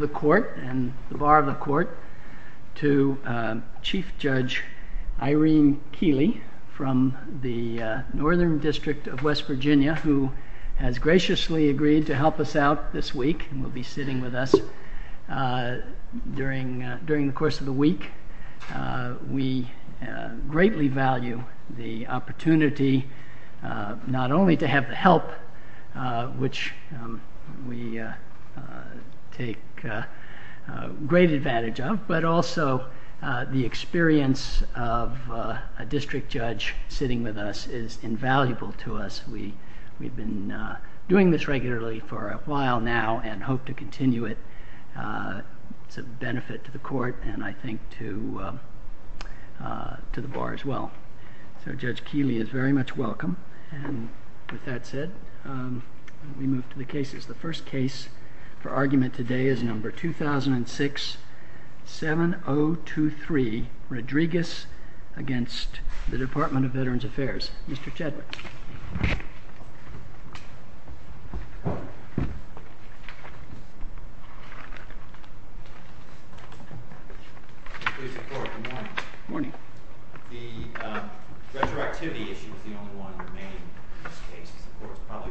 and the bar of the court to Chief Judge Irene Keely from the Northern District of West Virginia who has graciously agreed to help us out this week and will be sitting with us during the course of the week. We greatly value the opportunity not only to have help which we take great advantage of, but also the experience of a district judge sitting with us is invaluable to us. We've been doing this regularly for a while now and hope to continue it to benefit the court and I think to the bar as well. Judge Keely is very much welcome. With that said, we move to the cases. The first case for argument today is number 2006-7023, Rodriguez against the Department of Veterans Affairs. Mr. Chadwick. Good morning. Good morning. The retroactivity issue is the only one remaining in this case. This court was all in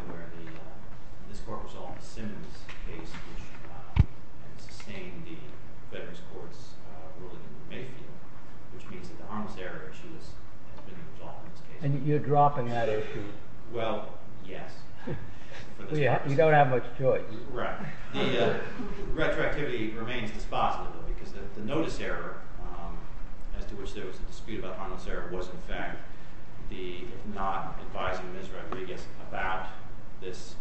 favor of this case, which was named the Veterans Courts Rules of Procedure case, which means that the harmless error issue has been resolved. And you're dropping that issue. Well, yeah. We don't have much choice. Right. Retroactivity remains the thought of it because the noticed error, as to which there was a dispute about harmless error, was in fact the not advising Mr. Rodriguez about this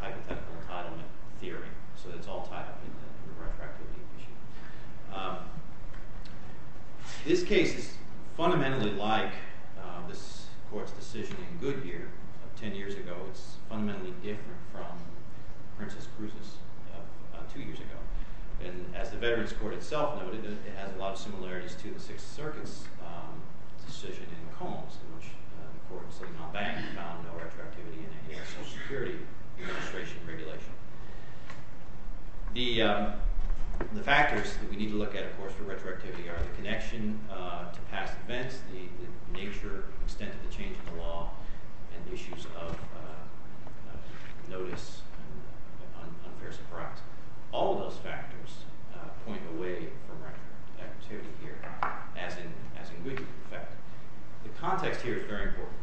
hypothetical un-hearing. So it's all tied to the retroactivity issue. This case, fundamentally like this court's decision in Goodyear 10 years ago, is fundamentally different from Princess Cruz's two years ago. And as the Veterans Court itself noted, it has a lot of similarities to the Sixth Circuit's decision in McCombs, in which the court said, I'll back you on the retroactivity and the anti-social security regulation. The factors that we need to look at, of course, for retroactivity are the connection to past events, the nature, extent of the change in the law, and issues of notice on where's the proxy. All of those factors point away from retroactivity here, as in Goodyear. The context here is very important.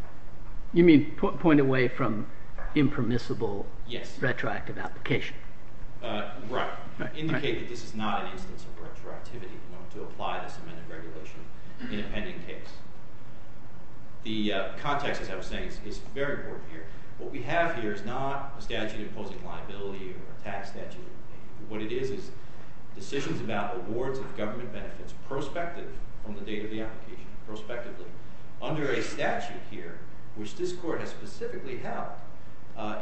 You mean point away from impermissible retroactive application. Right. In this case, this is not a case of retroactivity if you want to apply this kind of regulation in a pending case. The context, as I was saying, is very important here. What we have here is not a statute imposing liability or a tax statute. What it is is decisions about awards of government benefits prospectively, from the date of the application, prospectively, under a statute here, which this court has specifically held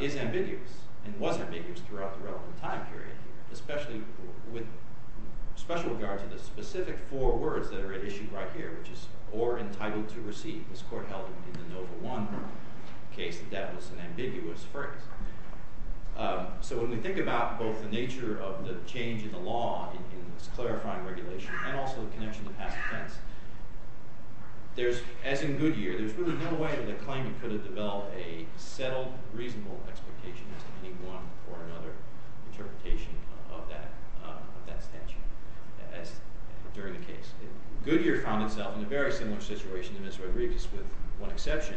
it ambiguous, and was ambiguous throughout the relevant time period, especially with special regard to the specific four words that are issued right here, which is, or entitled to receive. This court held it to be the number one case that was an ambiguous first. So when we think about both the nature of the change in the law in this clarifying regulation, and also the connection to past offense, there's, as in Goodyear, there's really no way in the claim you could have developed a settled, reasonable expectation as to be one or another interpretation of that statute during a case. Goodyear found itself in a very similar situation to Ms. Rodriguez, with one exception.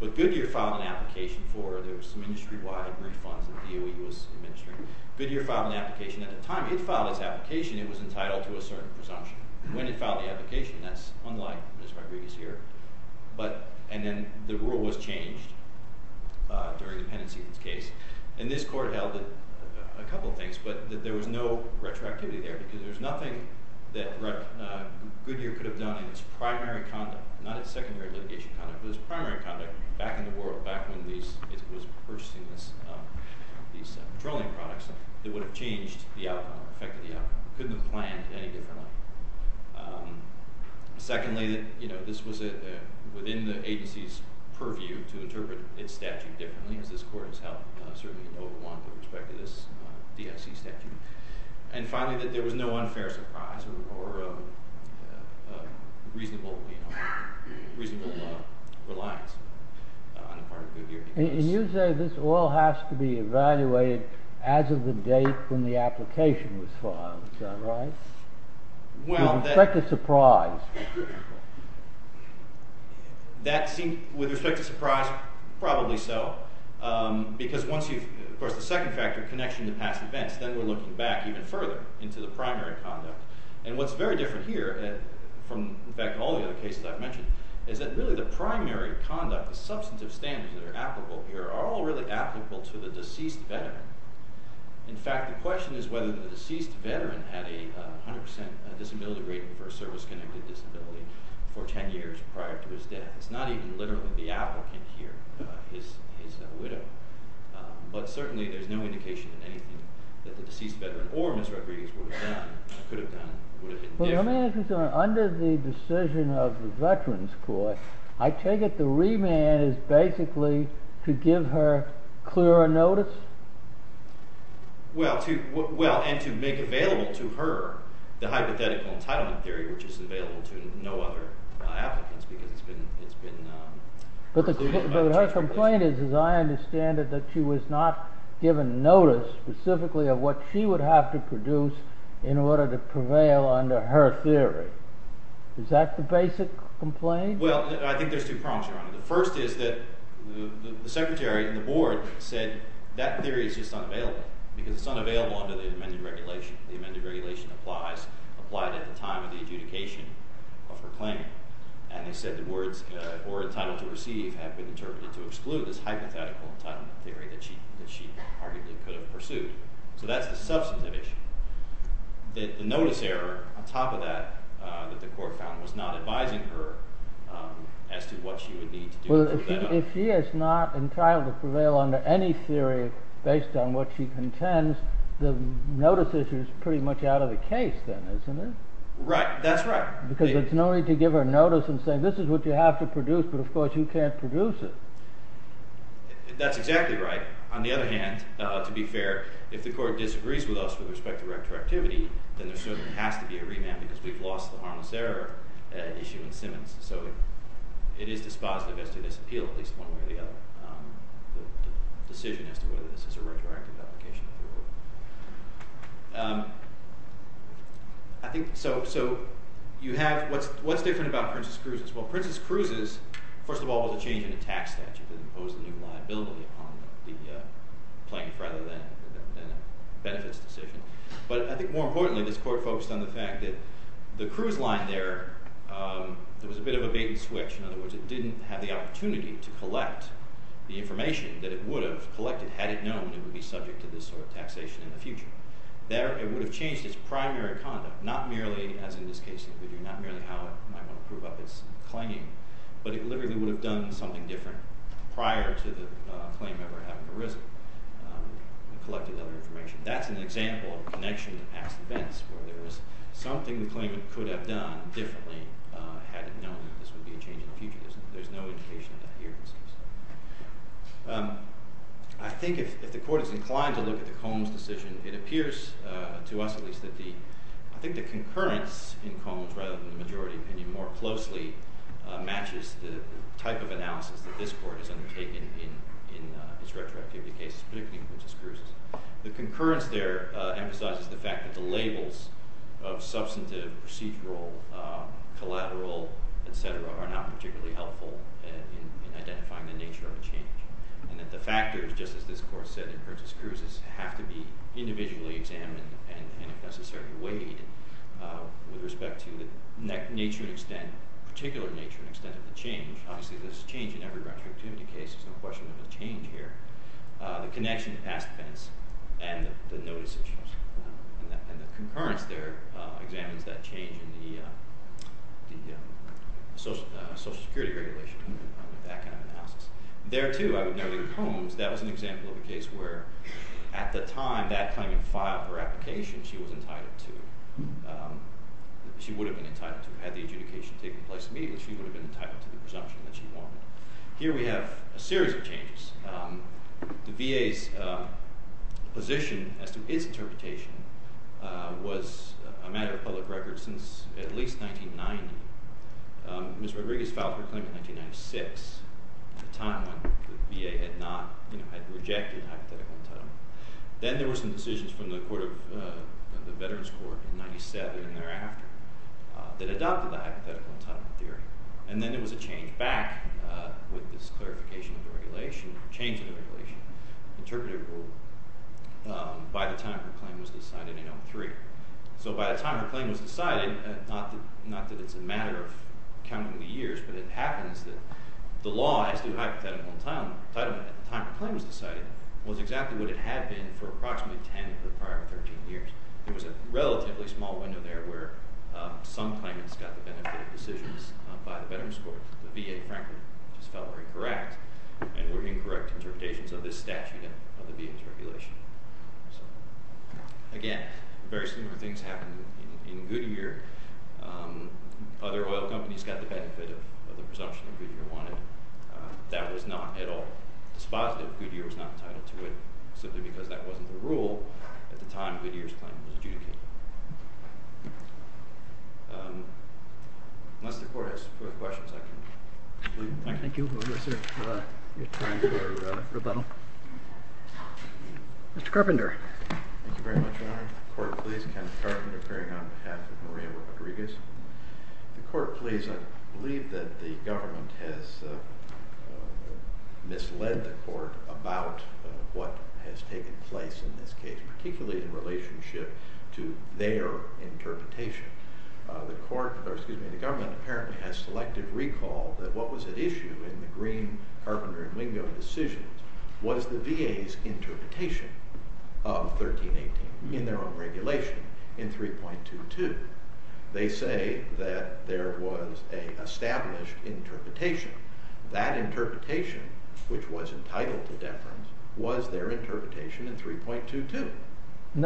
But Goodyear filed an application for, there was some industry-wide refund from DOE who was administering. Goodyear filed an application at the time Goodyear filed this application, it was entitled to a certain presumption. When he filed the application, that's unlike Ms. Rodriguez here. But, and then the rule was changed during the penalty case. And this court held a couple of things, but there was no retroactivity there, because there's nothing that Goodyear could have done as primary conduct, not as secondary litigation conduct, but as primary conduct back in the world, back when it was first seen as these controlling products, that would have changed the outcome, affected the outcome. Couldn't have planned any differently. Secondly, this was within the agency's purview to interpret this statute differently, as this court itself certainly overwhelmed with respect to this DNC statute. And finally, there was no unfair surprise or reasonable reliance on the part of Goodyear. And you say this all has to be evaluated as of the date when the application was filed, is that right? With respect to surprise. That seems, with respect to surprise, probably so. Because once you, of course, the second factor connects you to past events. Then we're looking back even further into the primary conduct. And what's very different here, and back to all the other cases I've mentioned, is that really the primary conduct, the substantive standards that are applicable here, are all really applicable to the deceased veteran. In fact, the question is whether the deceased veteran had a 100% disability rating for a service-connected disability for 10 years prior to his death. It's not even literally the applicant here. It's a widow. But certainly, there's no indication that the deceased veteran or Ms. Rodriguez would have done it. She could have done it. It would have been different. Well, let me ask you something. Under the decision of the Veterans Court, I take it the remand is basically to give her clearer notice? Well, and to make available to her the hypothetical entitlement theory, which is available to no other applicants. Because it's been known. But her complaint is, as I understand it, that she was not given notice specifically of what she would have to produce in order to prevail under her theory. Is that the basic complaint? Well, I think there's two prompts around it. The first is that the secretary of the board said that theory is just unavailable. Because it's unavailable under the amended regulation. The amended regulation applies at the time of the adjudication of her claim. And he said the words, for a title to receive, have been interpreted to exclude this hypothetical entitlement theory that she arguably could have pursued. So that's the substantive issue. The notice error on top of that, that the court found, was not advising her as to what she would need to do. Well, if she is not entitled to prevail under any theory based on what she contends, the notice issue is pretty much out of the case then, isn't it? Right, that's right. Because there's no need to give her notice and say, this is what you have to produce, but of course, you can't produce it. That's exactly right. On the other hand, to be fair, if the court disagrees with us with respect to retroactivity, then there certainly has to be a remand, because we've lost the harmless error issue in the sentence. So it is dispositive as to this appeal, at least one way or the other. The decision as to whether this is a regulatory complication. So what's different about Princess Cruises? Well, Princess Cruises, first of all, was a change in the tax statute that imposed the new liability on the plane rather than a benefits decision. But I think more importantly, this court focused on the fact that the cruise line there was a bit of a baby switch. In other words, it didn't have the opportunity to collect the information that it would have collected had it known it would be subject to this sort of thing. Taxation in the future. It would have changed its primary conduct, not merely, as in this case in the video, not merely how it might group up its claimant, but it literally would have done something different prior to the claimant ever having arisen and collected that information. That's an example of a connection to past events where there was something the claimant could have done differently had it known that this would be a change in the future. There's no indication of that here. I think if the court is inclined to look at the Combs decision, it appears to us at least that I think the concurrence in Combs, rather than the majority opinion more closely, matches the type of analysis that this court is undertaking in the stretch of activity case, particularly in Mrs. Cruz's. The concurrence there emphasizes the fact that the labels of substantive, procedural, collateral, et cetera, are not particularly helpful in identifying the nature of the change. And that the factors, just as this court said in Mrs. Cruz's, have to be individually examined and, if necessary, weighed with respect to the nature and extent, particular nature and extent of the change. Obviously, there's a change in every round of activity case. There's no question of a change here. The connection to past events and the notice of change. And the concurrence there examines that change in the social security regulation and that kind of analysis. There, too, I would note that in Combs, that was an example of a case where, at the time, that kind of file or application, she was entitled to, she would have been entitled to, had the adjudication taken place immediately, she would have been entitled to the presumption that she won. Here we have a series of changes. The VA's position, as to its interpretation, was a matter of public record since at least 1990. Ms. Rodriguez filed her claim in 1996, a time when the VA had rejected hypothetical entitlement. Then there were some decisions from the Veterans Court in 1997 and thereafter that adopted the hypothetical entitlement theory. And then there was a change back with this clarification of the regulation, change of the regulation, interpretative rule, by the time her claim was decided in 2003. So by the time her claim was decided, not that it's a matter of counting the years, but it happens that the law as to hypothetical entitlement at the time her claim was decided was exactly what it had been for approximately 10 of the prior 13 years. There was a relatively small window there where some claimants got the benefit of decisions by the Veterans Court. The VA, in fact, spelled it correct, and were incorrect interpretations of this statute of the VA's regulation. Again, very similar things happened in Goodyear. Other oil companies got the benefit of the presumption that Goodyear wanted. That was not at all the spot that Goodyear was not tied up to it, simply because that wasn't the rule at the time Goodyear's claim was due. Thank you. Mr. Carpenter. Thank you very much, Your Honor. Court, please. Ken Carpenter, appearing on behalf of Maria Rodriguez. Your Court, please. I believe that the government has misled the court about what in relationship to the fact that Goodyear's claim was due to their interpretation. The government apparently has selected recall that what was at issue in the Green, Carpenter, and Mignola decisions was the VA's interpretation of 1318 in their own regulation in 3.22. They say that there was an established interpretation. That interpretation, which was entitled to deference, was their interpretation in 3.22.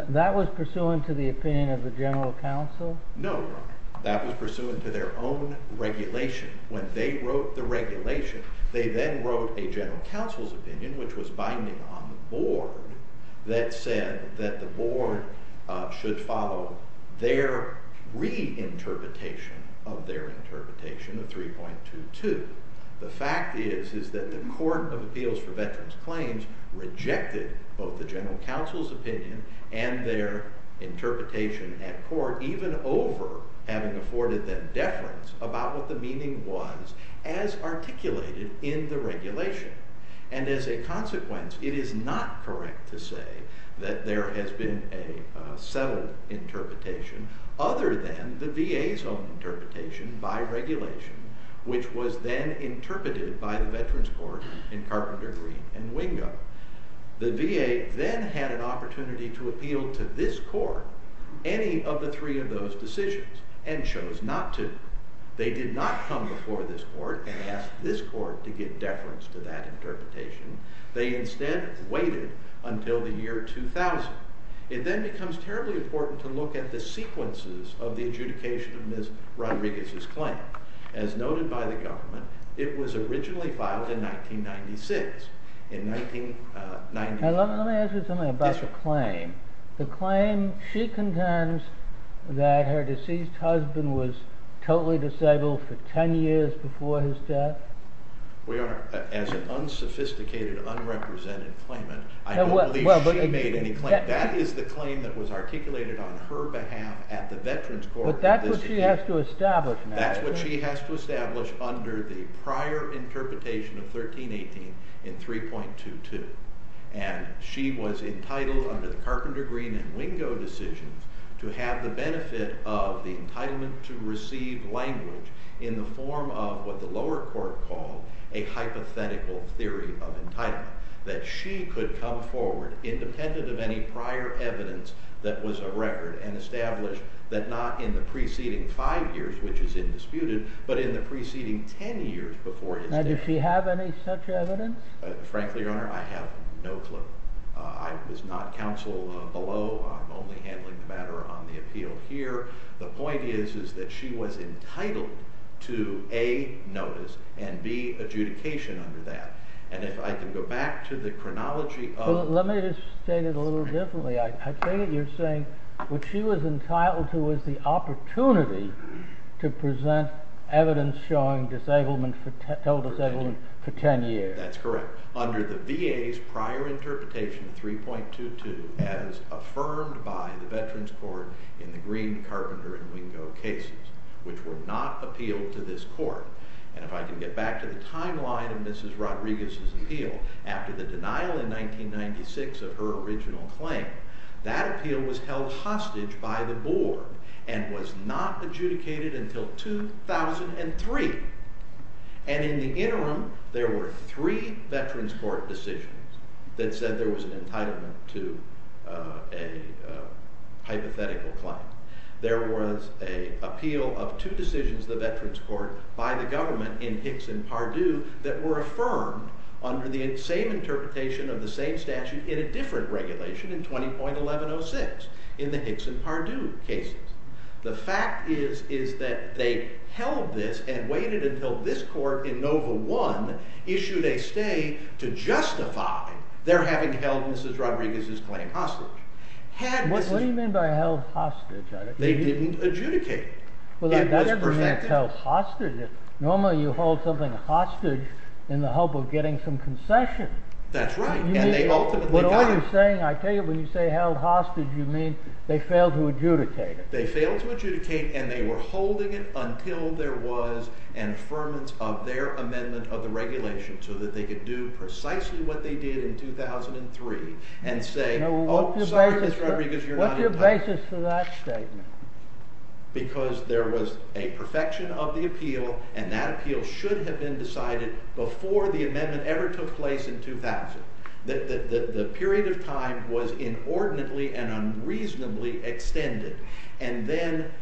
That was pursuant to the opinion of the General Counsel? No, Your Honor. That was pursuant to their own regulation. When they wrote the regulation, they then wrote a General Counsel's opinion, which was binding on the board, that said that the board should follow their reinterpretation of their interpretation of 3.22. The fact is that the Court of Appeals for Veterans Claims rejected both the General Counsel's opinion and their interpretation at court, even over having afforded them deference about what the meaning was as articulated in the regulation. And as a consequence, it is not correct to say that there has been a settled interpretation other than the VA's own interpretation by regulation, which was then interpreted by the Veterans Court in Carpenter, Green, and Wingo. The VA then had an opportunity to appeal to this court any of the three of those decisions and chose not to. They did not come before this court and ask this court to give deference to that interpretation. They instead waited until the year 2000. It then becomes terribly important to look at the sequences of the adjudication of Ms. Rodriguez's claim. As noted by the government, it was originally filed in 1996. Now, let me ask you something about the claim. The claim, she contends that her deceased husband was totally disabled for 10 years before his death? As an unsophisticated, unrepresented claimant, I don't believe she made any claim. That is the claim that was articulated on her behalf at the Veterans Court. But that's what she has to establish now. That's what she has to establish under the prior interpretation of 1318 in 3.22. And she was entitled under the Carpenter, Green, and Wingo decisions to have the benefit of the entitlement to receive language in the form of what the lower court called a hypothetical theory of entitlement, that she could come forward independent of any prior evidence that was a record and establish that not in the preceding five years, which is indisputed, but in the preceding 10 years before his death. Now, does she have any such evidence? Frankly, Your Honor, I have no clue. I was not counsel below. I'm only handling the matter on the appeal here. The point is that she was entitled to A, notice, and B, adjudication under that. And if I can go back to the chronology of the case. Well, let me just state it a little differently. I think you're saying that she was entitled to the opportunity to present evidence showing disablement for 10 years. That's correct. Under the VA's prior interpretation, 3.22, as affirmed by the Veterans Court in the Green, Carpenter, and Wingo cases, which will not appeal to this court. And if I can get back to the timeline of Mrs. Rodriguez's appeal, after the denial in 1996 of her original claim, that appeal was held hostage by the board and was not adjudicated until 2003. And in the interim, there were three Veterans Court decisions that said there was an entitlement to a hypothetical claim. There was an appeal of two decisions of the Veterans Court by the government in Hicks and Pardue that were affirmed under the same interpretation of the same statute in a different regulation in 20.1106 in the Hicks and Pardue case. The fact is that they held this and waited until this court in Nova I issued a state to justify their having held Mrs. Rodriguez's claim hostage. What do you mean by held hostage? They didn't adjudicate it. Well, that doesn't mean held hostage. Normally you hold something hostage in the hope of getting some concession. That's right. And they ultimately got it. What are you saying? I take it when you say held hostage, you mean they failed to adjudicate it. They failed to adjudicate. And they were holding it until there was an affirmance of their amendment of the regulation so that they could do precisely what they did in 2003 and say, oh, sorry, Mr. Rodriguez, you're not entitled. What's your basis for that statement? Because there was a perfection of the appeal. And that appeal should have been decided before the amendment ever took place in 2000. The period of time was inordinately and unreasonably extended. And then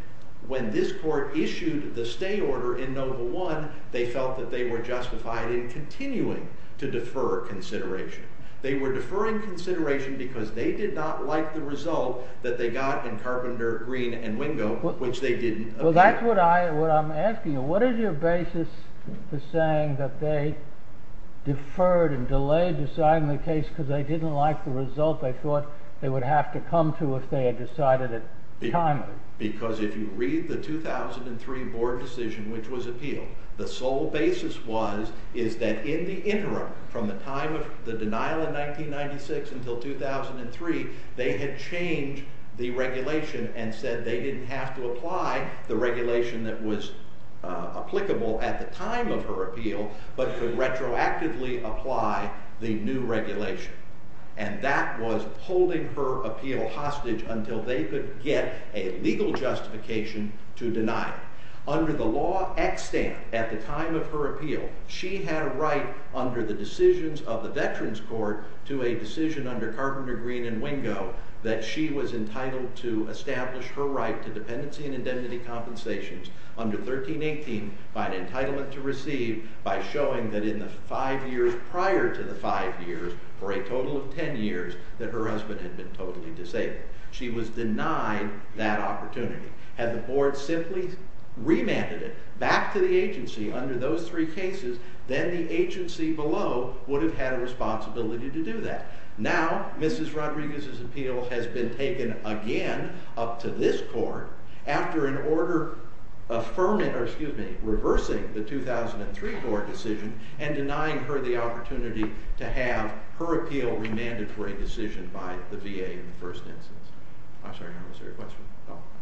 when this court issued the state order in Nova I, they felt that they were justified in continuing to defer consideration. They were deferring consideration because they did not like the result that they got in Carpenter, Green, and Windmill, which they didn't appeal. Well, that's what I'm asking you. What is your basis for saying that they deferred and delayed deciding the case because they didn't like the result they thought they would have to come to if they had decided at the time? Because if you read the 2003 board decision, which was appealed, the sole basis was that in the interim, from the time of the denial in 1996 until 2003, they had changed the regulation and said they didn't have to apply the regulation that was applicable at the time of her appeal, but to retroactively apply the new regulation. And that was holding her appeal hostage until they could get a legal justification to deny it. Under the law extinct at the time of her appeal, she had a right under the decisions of the Veterans Court to a decision under Carpenter, Green, and Wingo that she was entitled to establish her right to dependency and indemnity compensations under 1318 by an entitlement to receive by showing that in the five years prior to the five years, or a total of 10 years, that her husband had been totally disabled. She was denied that opportunity. Had the board simply remanded it back to the agency under those three cases, then the agency below would have had a responsibility to do that. Now, Mrs. Rodriguez's appeal has been taken again up to this court after an order reversing the 2003 court decision and denying her the opportunity to have her appeal remanded for indecision by the VA in the first instance. I'm sorry, I didn't understand your question.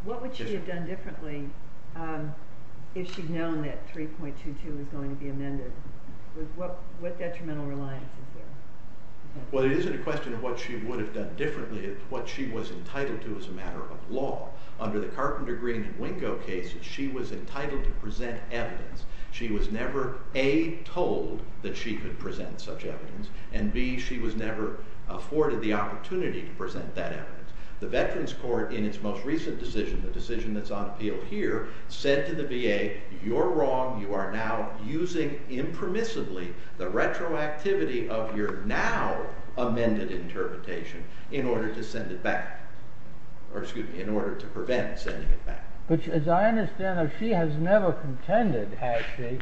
What would she have done differently if she'd known that 3.22 was going to be amended? What detrimental reliance is there? Well, it isn't a question of what she would have done differently if what she was entitled to was a matter of law. Under the Carpenter Green Winko case, she was entitled to present evidence. She was never, A, told that she could present such evidence, and B, she was never afforded the opportunity to present that evidence. The Veterans Court, in its most recent decision, the decision that's on appeal here, said to the VA, you're wrong. You are now using impermissibly the retroactivity of your now amended interpretation in order to send it back, or excuse me, in order to prevent sending it back. Which, as I understand it, she has never contended, has she,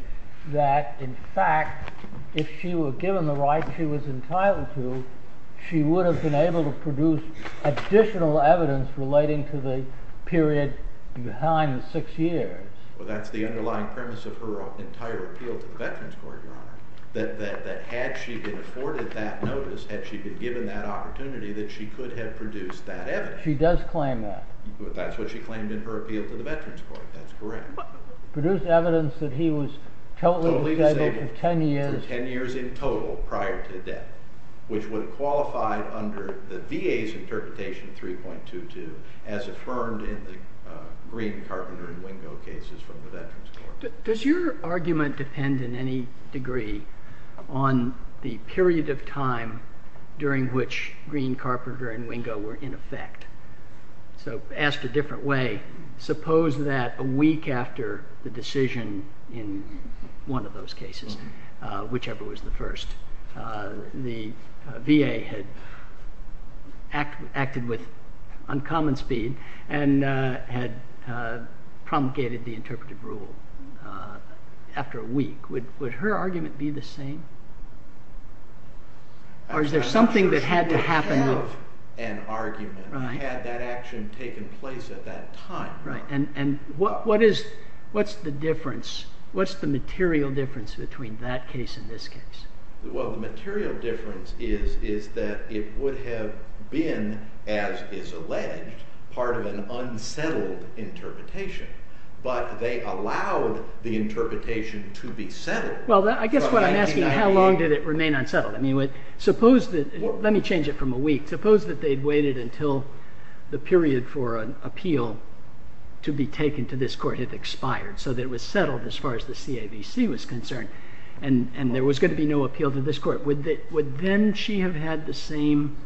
that, in fact, if she were given the right she was entitled to, she would have been able to produce additional evidence relating to the period behind six years. Well, that's the underlying premise of her entire appeal to the Veterans Court, that had she been afforded that notice, had she been given that opportunity, that she could have produced that evidence. She does claim that. That's what she claimed in her appeal to the Veterans Court. That's correct. Produced evidence that he was totally discredited for 10 years. For 10 years in total prior to death, which would qualify under the VA's interpretation of 3.22 as affirmed in the Green, Carpenter, and Winko cases from the Veterans Court. Does your argument depend in any degree on the period of time during which Green, Carpenter, and Winko were in effect? So asked a different way, suppose that a week after the decision in one of those cases, whichever was the first, the VA had acted with uncommon speed and had promulgated the interpretive rule after a week. Would her argument be the same? Or is there something that had to happen? That was an argument. Right. Had that action taken place at that time. Right. And what's the difference? What's the material difference between that case and this case? Well, the material difference is that it would have been, as is alleged, part of an unsettled interpretation. But they allowed the interpretation to be settled. Well, I guess what I'm asking, how long did it remain unsettled? I mean, suppose that, let me change it from a week. Suppose that they'd waited until the period for an appeal to be taken to this court had expired, so that it was settled as far as the CAVC was concerned. And there was going to be no appeal to this court. Would then she have had the same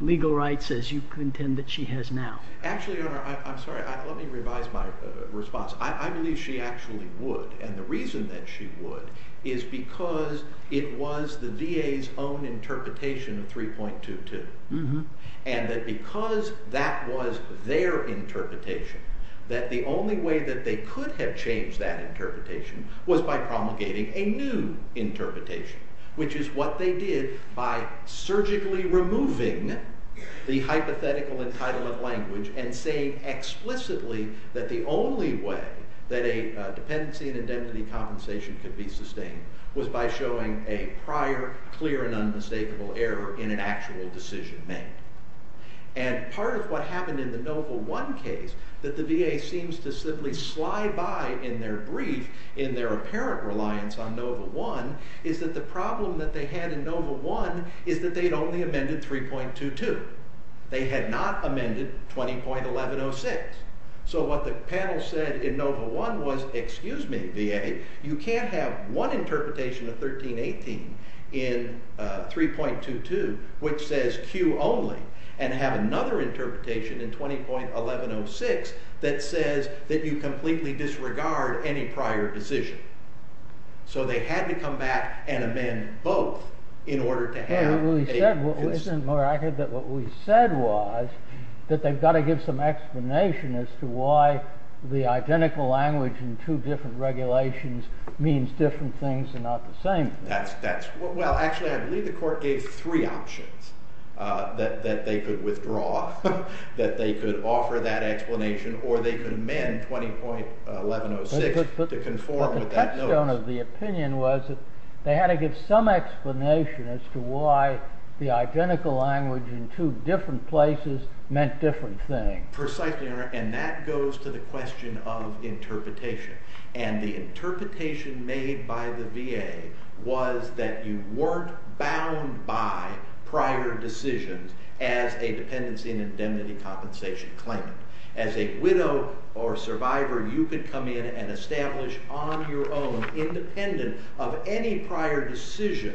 legal rights as you contend that she has now? Actually, Your Honor, I'm sorry. Let me revise my response. I believe she actually would. And the reason that she would is because it was the DA's own interpretation of 3.22. And that because that was their interpretation, that the only way that they could have changed that interpretation was by promulgating a new interpretation, which is what they did by surgically removing the hypothetical entitlement language and saying explicitly that the only way that a dependency and identity compensation could be sustained was by showing a prior, clear, and unmistakable error in an actual decision made. And part of what happened in the NOVA 1 case that the DA seems to simply slide by in their brief in their apparent reliance on NOVA 1 is that the problem that they had in NOVA 1 is that they'd only amended 3.22. They had not amended 20.1106. So what the panel said in NOVA 1 was, excuse me, DA, you can't have one interpretation of 1318 in 3.22 which says Q only and have another interpretation in 20.1106 that says that you completely disregard any prior decision. So they had to come back and amend both in order to have a consistent interpretation. Isn't it more accurate that what we said was that they've got to give some explanation as to why the identical language in two different regulations means different things and not the same? That's correct. Well, actually, I believe the court gave three options that they could withdraw, that they could offer that explanation, or they could amend 20.1106 to conform with that NOVA. The question of the opinion was that they had to give some explanation as to why the identical language in two different places meant different things. Precisely, and that goes to the question of interpretation. And the interpretation made by the VA was that you weren't bound by prior decisions as a dependency and indemnity compensation claim. As a widow or survivor, you could come in and establish on your own, independent of any prior decision,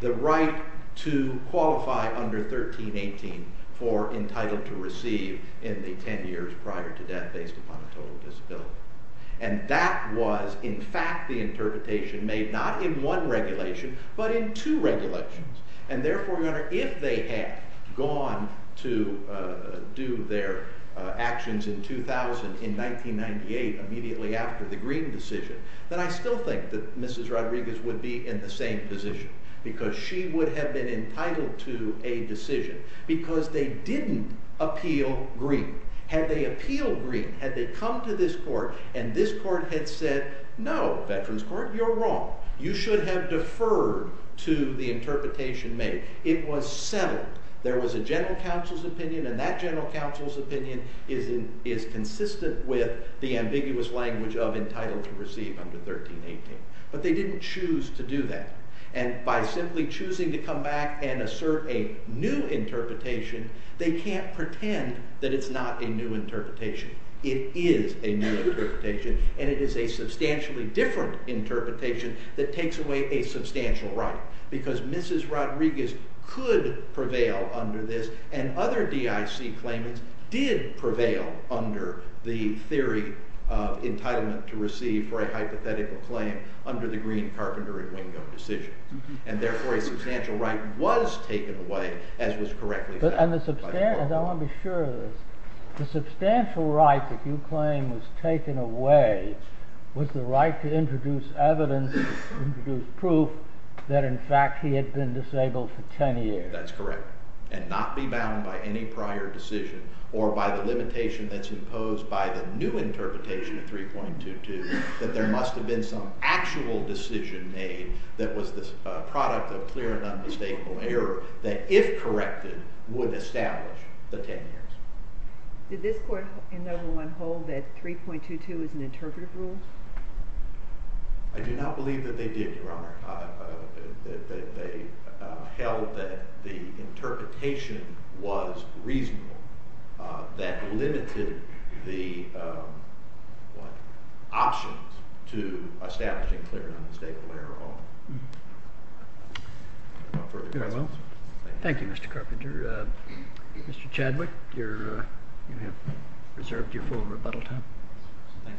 the right to qualify under 1318 for entitled to receive in the 10 years prior to death based upon a total disability. And that was, in fact, the interpretation made not in one regulation, but in two regulations. And therefore, if they had gone to do their actions in 2000, in 1998, immediately after the Greene decision, then I still think that Mrs. Rodriguez would be in the same position. Because she would have been entitled to a decision. Because they didn't appeal Greene. Had they appealed Greene, had they come to this court, and this court had said, no, you're wrong. You should have deferred to the interpretation made. It was settled. There was a general counsel's opinion, and that general counsel's opinion is consistent with the ambiguous language of entitled to receive under 1318. But they didn't choose to do that. And by simply choosing to come back and assert a new interpretation, they can't pretend that it's not a new interpretation. It is a new interpretation, and it is a substantially different interpretation that takes away a substantial right. Because Mrs. Rodriguez could prevail under this, and other DIC claims did prevail under the theory of entitlement to receive for a hypothetical claim under the Greene, Carpenter, and Wingo decision. And therefore, a substantial right was taken away, as was correctly said. And I want to be sure of this. The substantial right that you claim was taken away was the right to introduce evidence, introduce proof, that in fact he had been disabled for 10 years. That's correct. And not be bound by any prior decision, or by the limitation that's imposed by the new interpretation of 3.22, that there must have been some actual decision made that was the product of clear and unmistakable error, that if corrected, would establish the 10 years. Did this court in number one hold that 3.22 is an interpretive rule? I do not believe that they did, Your Honor. They held that the interpretation was reasonable. That limited the options to establishing clear and unmistakable error law. Very well. Thank you, Mr. Carpenter. Mr. Chadwick, you have reserved your full rebuttal time. Thank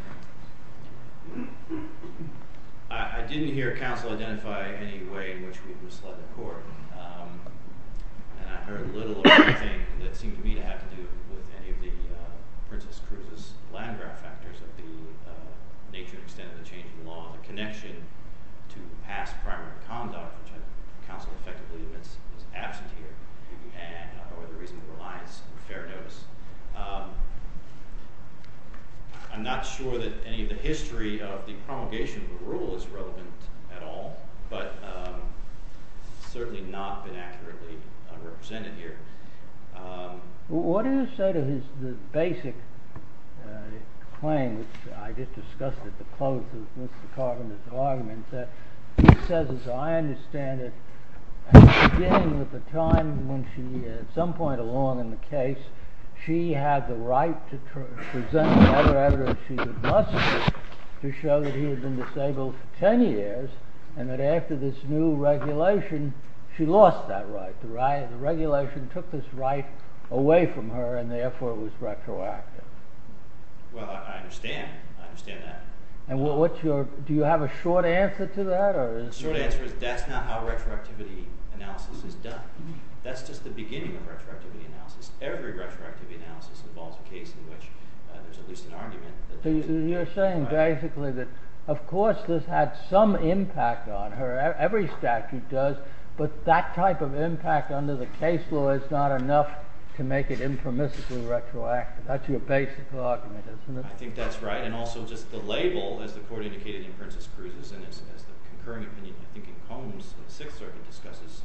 you. I didn't hear counsel identify any way in which we would slug the court. And I heard little of anything that seemed to me to have to do with any of the Princess Cruz's landmark factors of the nature and extent of the change in law and the connection to the past crime of conduct. Counsel effectively was absent here. I'm not sure that any of the history of the promulgation of the rule is relevant at all, but certainly not been accurately represented here. What do you say to his basic claim, which I just discussed at the close of Mr. Carpenter's argument, that he says, as I understand it, at the beginning of the time when she, at some point along in the case, she had the right to present the other evidence she had mustered to show that he had been disabled for 10 years and that after this new regulation, she lost that right. The regulation took this right away from her and therefore it was retroactive. Well, I understand. I understand that. Do you have a short answer to that? The short answer is that's not how retroactivity analysis is done. That's just the beginning of retroactivity analysis. Every retroactivity analysis involves a case in which there's at least an argument. You're saying, basically, that of course this had some impact on her. Every statute does. But that type of impact under the case law is not enough to make it informistically retroactive. That's your basic argument, isn't it? I think that's right. And also, just the label that the court had indicated to Princess Cruz, and it's a concurring opinion, I think it's common sense that the Sixth Circuit discusses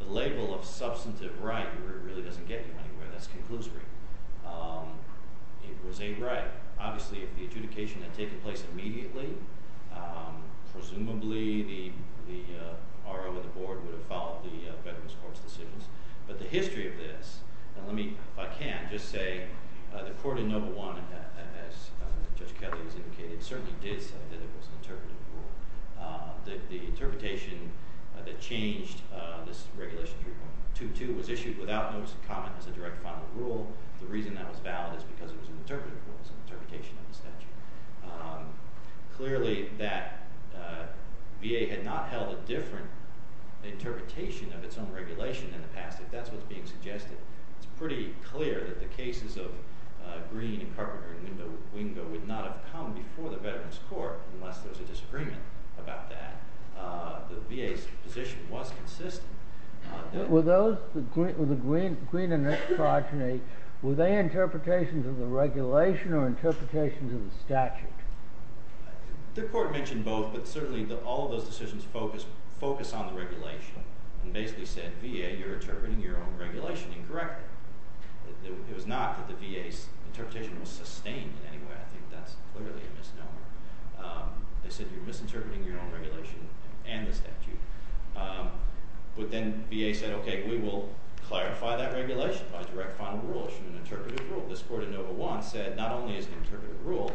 the label of substantive right, where it really doesn't get you anywhere. That's conclusive. It was a right. Obviously, if the adjudication had taken place immediately, presumably the ROA board would have followed the Federalist Court's decisions. But the history of this, and let me, if I can, just say that Court of No. 1, as Judge Kelly has indicated, certainly did say that it was an interpretive court. The interpretation that changed this regulation to 2.2 was issued without notice of comment to the direct final rule. The reason that was valid is because it was an interpretive court. It's an interpretation of the statute. Clearly, that VA had not held a different interpretation of its own regulation in the past. If that's what's being suggested, it's pretty clear that the cases of Greene and Carpenter would not have come before the Veterans Court unless there was a disagreement about that. The VA's position was consistent. Were the Greene and Carpenter, were they interpretations of the regulation or interpretations of the statute? The court mentioned both. But certainly, all those decisions focused on the regulation, and basically said, VA, you're interpreting your own regulation incorrectly. It was not that the VA's interpretation was sustained in any way. I think that's clearly a misnomer. They said, you're misinterpreting your own regulation and the statute. But then VA said, OK, we will clarify that regulation by direct final rule. It's an interpretive rule. This court in No. 1 said, not only is it an interpretive rule,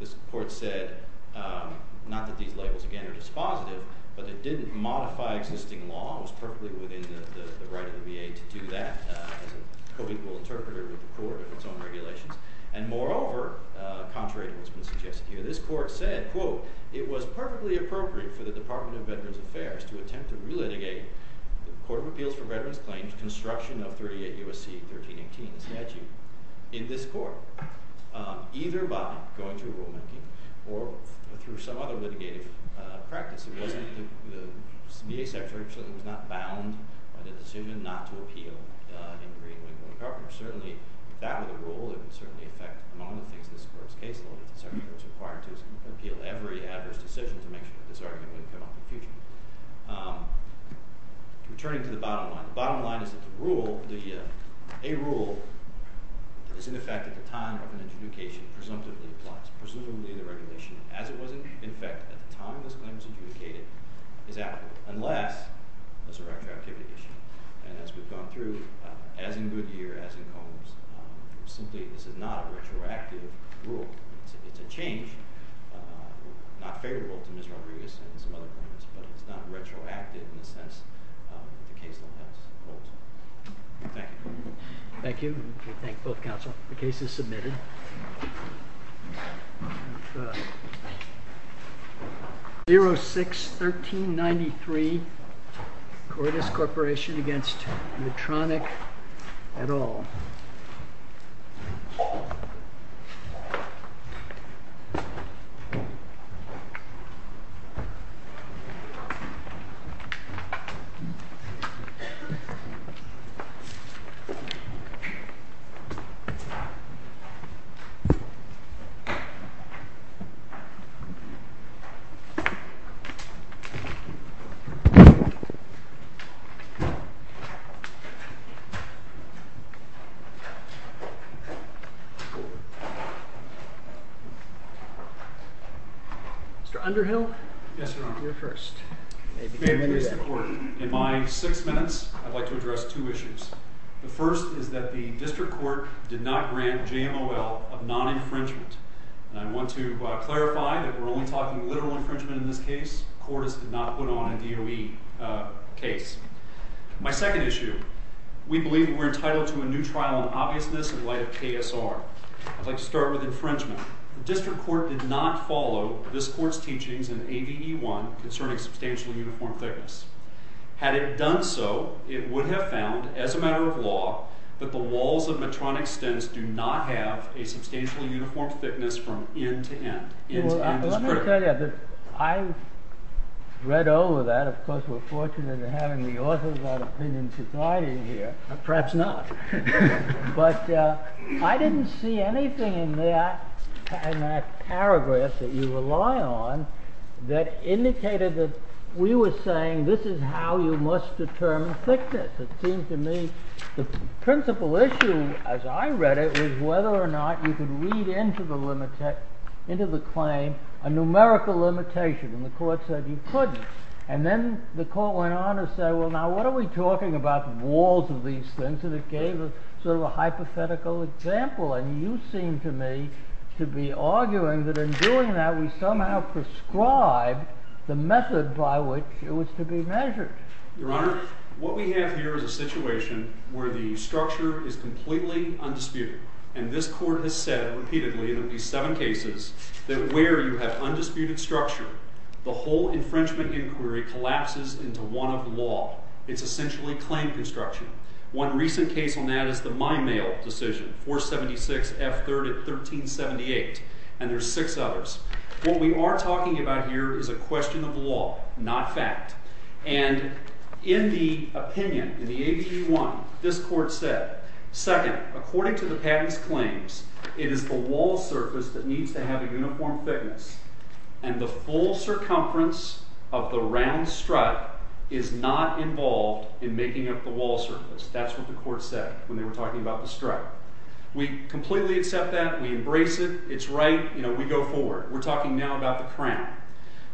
this court said, not that these labels, again, are dispositive, but they didn't modify existing laws perfectly within the right of the VA to do that. So we will interpret it with the court and its own regulations. And moreover, contrary to what's been suggested here, this court said, quote, it was perfectly appropriate for the Department of Veterans Affairs to attempt to relitigate the Court of Appeals for Veterans Claims Construction of 38 U.S.C. 1318 statute in this court, either by going through a rule review or through some other litigative practice. The VA secretary said it was not bound by the decision not to appeal an agreement with the government. Certainly, it's bound by the rule. It would certainly affect the amount of things this court is capable of. The secretary was required to appeal every decision to make sure that this argument would come up in the future. Returning to the bottom line, the bottom line is that the rule, a rule, is in effect at the time of an adjudication, presumptively the clause, presumably the regulation, as it was in effect at the time of an adjudication, is applicable, unless there's a retroactive issue. And as we've gone through, as in Goodyear, as in Combs, simply this is not a retroactive rule. It's a change, not favorable to Ms. Rodriguez and some other clients, but it's not retroactive in the sense that the case will pass. Thank you. Thank you. We thank both counsel. The case is submitted. 06-1393, Cordes Corporation against Medtronic et al. Mr. Underhill? Yes, Your Honor. You're first. In my six minutes, I'd like to address two issues. The first is that the district court did not grant JMOL a non-infringement. And I want to clarify that we're only And I want to clarify that we're only talking literal infringement in this case. Cordes did not put on a DOE case. My second issue, we believe we're entitled to a new trial of obviousness in light of KSR. I'd like to start with infringement. The district court did not follow this court's teachings in ABE-1 concerning substantially uniform thickness. Had it done so, it would have found, as a matter of law, that the walls of Medtronic Stens do not have a substantially uniform thickness from end to end. Well, let me tell you, I read over that. Of course, we're fortunate in having the authors out of human society here. Perhaps not. But I didn't see anything in that paragraph that you rely on that indicated that we were saying, this is how you must determine thickness. It seemed to me the principal issue, as I read it, was whether or not you could read into the claim a numerical limitation. And the court said you couldn't. And then the court went on to say, well, now what are we talking about walls of these things? And it gave us sort of a hypothetical example. And you seem to me to be arguing that in doing that, we somehow prescribe the method by which it was to be measured. Your Honor, what we have here is a situation where the structure is completely unspeakable. And this court has said repeatedly, in at least seven cases, that where you have undisputed structure, the whole infringement inquiry collapses into one of the law. It's essentially claim construction. One recent case on that is the My Mail decision, 476 F3rd of 1378. And there's six others. What we are talking about here is a question of law, not fact. And in the opinion, in the ABG 1, this court said, second, according to the patent's claims, it is a wall surface that needs to have a uniform thickness. And the full circumference of the round strut is not involved in making up the wall surface. That's what the court said when they were talking about the strut. We completely accept that. We embrace it. It's right. We go for it. We're talking now about the crown.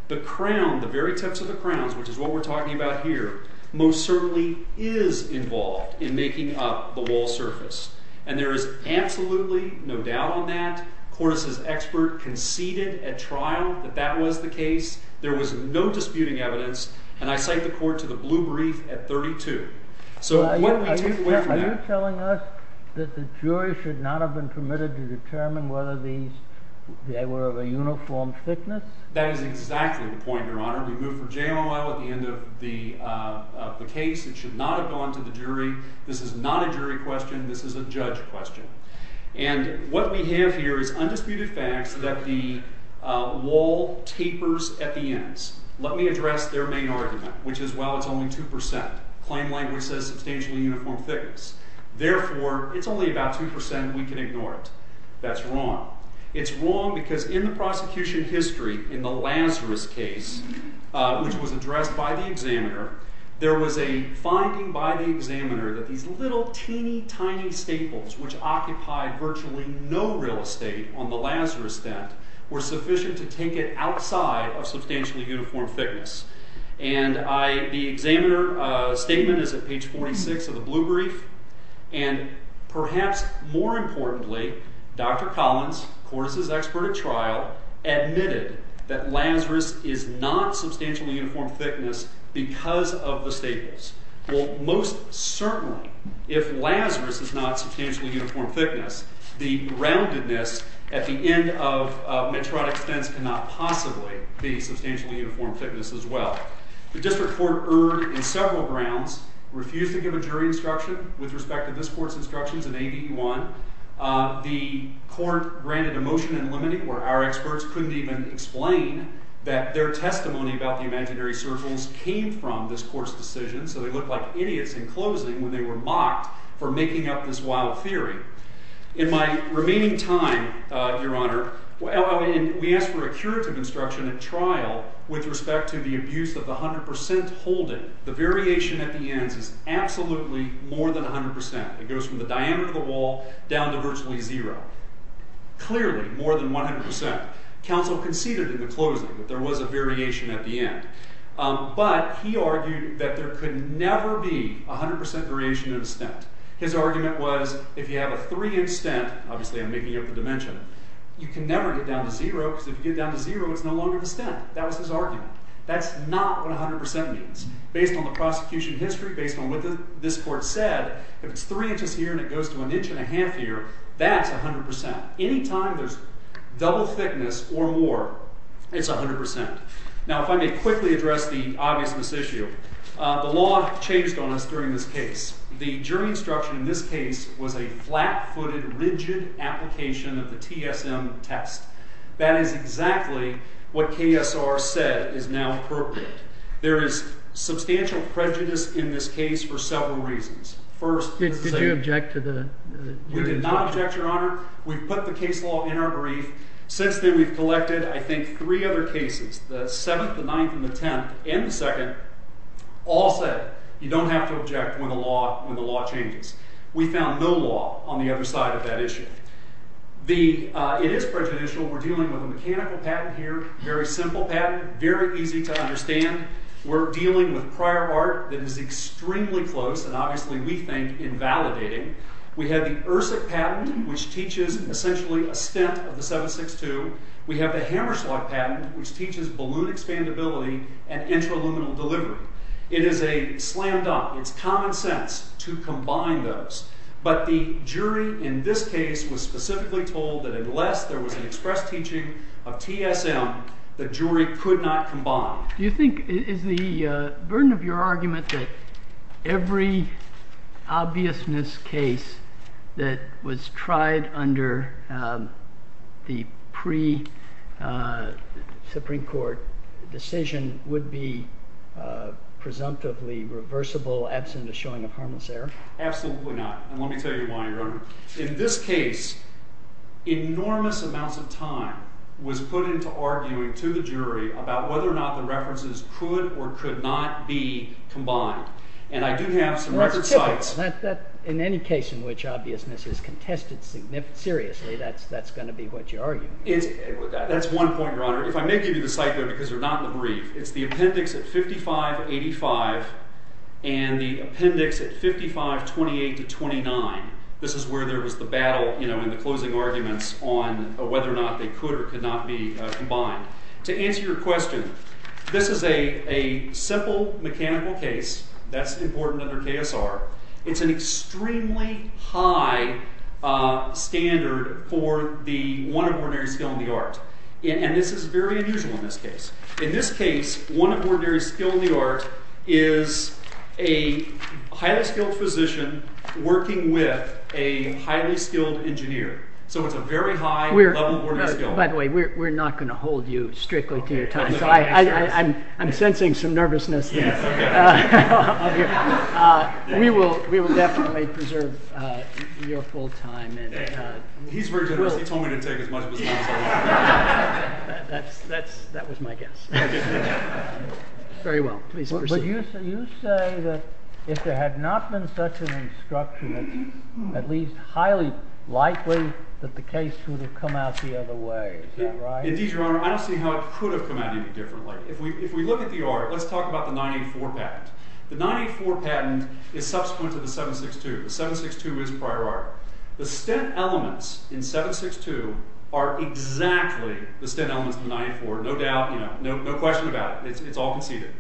The crown, the very tips of the crowns, which is what we're talking about here, most certainly is involved in making up the wall surface. And there is absolutely no doubt on that. Horace's expert conceded at trial that that was the case. There was no disputing evidence. And I cite the court to the blue brief at 32. So what we take away from that. Are you telling us that the jury should not have been permitted to determine whether they were of a uniform thickness? That is exactly the point, Your Honor. We moved for jail a while at the end of the case. It should not have gone to the jury. This is not a jury question. This is a judge question. And what we have here is undisputed facts that the wall tapers at the ends. Let me address their main argument, which is, well, it's only 2%. Plain language says it's a stationary uniform thickness. Therefore, it's only about 2%. We can ignore it. That's wrong. It's wrong because in the prosecution history, in the Lazarus case, which was addressed by the examiner, there was a finding by the examiner that these little, teeny, tiny staples, which occupied virtually no real estate on the Lazarus set, were sufficient to take it outside of substantially uniform thickness. And the examiner's statement is at page 46 of the blue brief. And perhaps more importantly, Dr. Collins, of course, is an expert at trial, admitted that Lazarus is not substantially uniform thickness because of the staples. Well, most certainly, if Lazarus is not substantially uniform thickness, the roundedness at the end of Medtronic's sentence cannot possibly be substantially uniform thickness as well. The district court erred in several grounds, refused to give a jury instruction with respect to this court's instructions in ABQ1. The court granted a motion in limiting, where our experts couldn't even explain that their testimony about the imaginary circles came from this court's decision. So they looked like idiots in closing when they were mocked for making up this wild theory. In my remaining time, Your Honor, we asked for a curative instruction at trial with respect to the abuse of the 100% holding. The variation at the end is absolutely more than 100%. It goes from the diameter of the wall down to virtually zero. Clearly, more than 100%. Counsel conceded in the closing that there was a variation at the end. But he argued that there could never be 100% variation of the stent. His argument was, if you have a three-inch stent, obviously I'm making up a dimension, you can never get down to zero, because if you get down to zero, it's no longer the stent. That was his argument. That's not what 100% means. Based on the prosecution history, based on what this court said, if it's three inches here and it goes to an inch and a half here, that's 100%. Any time there's double thickness or more, it's 100%. Now if I may quickly address the obviousness issue. The law chased on us during this case. The jury instruction in this case was a flat-footed, rigid application of the TSM test. That is exactly what KSR said is now appropriate. There is substantial prejudice in this case for several reasons. First, we did not object, Your Honor. We put the case law in our brief. Since then, we've collected, I think, three other cases. The seventh, the ninth, and the tenth, and the second, all said, you don't have to object when the law changes. We found no law on the other side of that issue. It is prejudicial. We're dealing with a mechanical patent here, very simple patent, very easy to understand. We're dealing with prior art that is extremely close, and obviously, we think, invalidating. We have the ERSA patent, which teaches essentially a stint of the 762. We have the Hammerschlag patent, which teaches balloon expandability and inter-aluminum delivery. It is a slam dunk. It's common sense to combine those. But the jury in this case was specifically told that unless there was an express teaching of TSM, the jury could not combine. Do you think, is the burden of your argument that every obviousness case that was tried under the pre-Supreme Court decision would be presumptively reversible, absent the showing of harmless error? Absolutely not. And let me tell you why, Your Honor. In this case, enormous amounts of time was put into arguing to the jury about whether or not the references could or could not be combined. And I do have some records of sites. In any case in which obviousness is contested seriously, that's going to be what you're arguing. That's one point, Your Honor. If I may give you the site there, because they're not in the brief, it's the appendix at 5585 and the appendix at 5528 to 29. This is where there was the battle in the closing arguments on whether or not they could or could not be combined. To answer your question, this is a simple mechanical case that's important under PSR. It's an extremely high standard for the one of ordinary skill in the art. And this is very unusual in this case. In this case, one of ordinary skill in the art is a highly skilled physician working with a highly skilled engineer. So it's a very high level of ordinary skill. By the way, we're not going to hold you strictly to your time. So I'm sensing some nervousness here. We will definitely preserve your full time. He's very generous. He told me to take as much of his time. That was my guess. Very well. Please proceed. You say that if there had not been such an instruction, it's at least highly likely that the case would have come out the other way. Is that right? Indeed, Your Honor. I don't see how it could have come out any differently. If we look at the art, let's talk about the 984 patent. The 984 patent is subsequent to the 762. The 762 is prior art. The stint elements in 762 are exactly the stint elements of the 984. No doubt. No question about it. It's all conceded.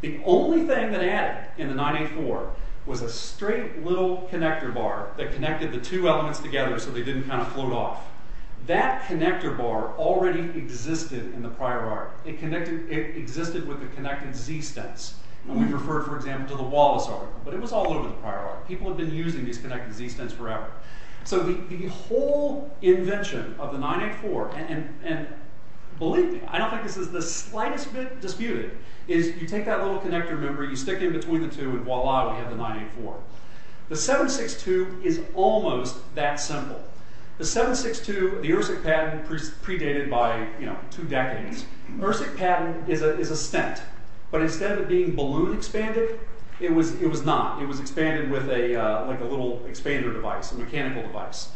The only thing that added in the 984 was a straight little connector bar that connected the two elements together so they didn't kind of float off. That connector bar already existed in the prior art. It existed with the connected Z stints. We refer, for example, to the Wallace article. But it was all in the prior art. People have been using these connected Z stints forever. So the whole invention of the 984, and believe me, I don't think this is the slightest bit disputed, is you take that little connector, remember, you stick it in between the two, and voila, we have the 984. The 762 is almost that simple. The 762, the ERSIC patent predated by two decades. ERSIC patent is a stint. But instead of being balloon expanded, it was not. It was expanded with a little expander device, a mechanical device.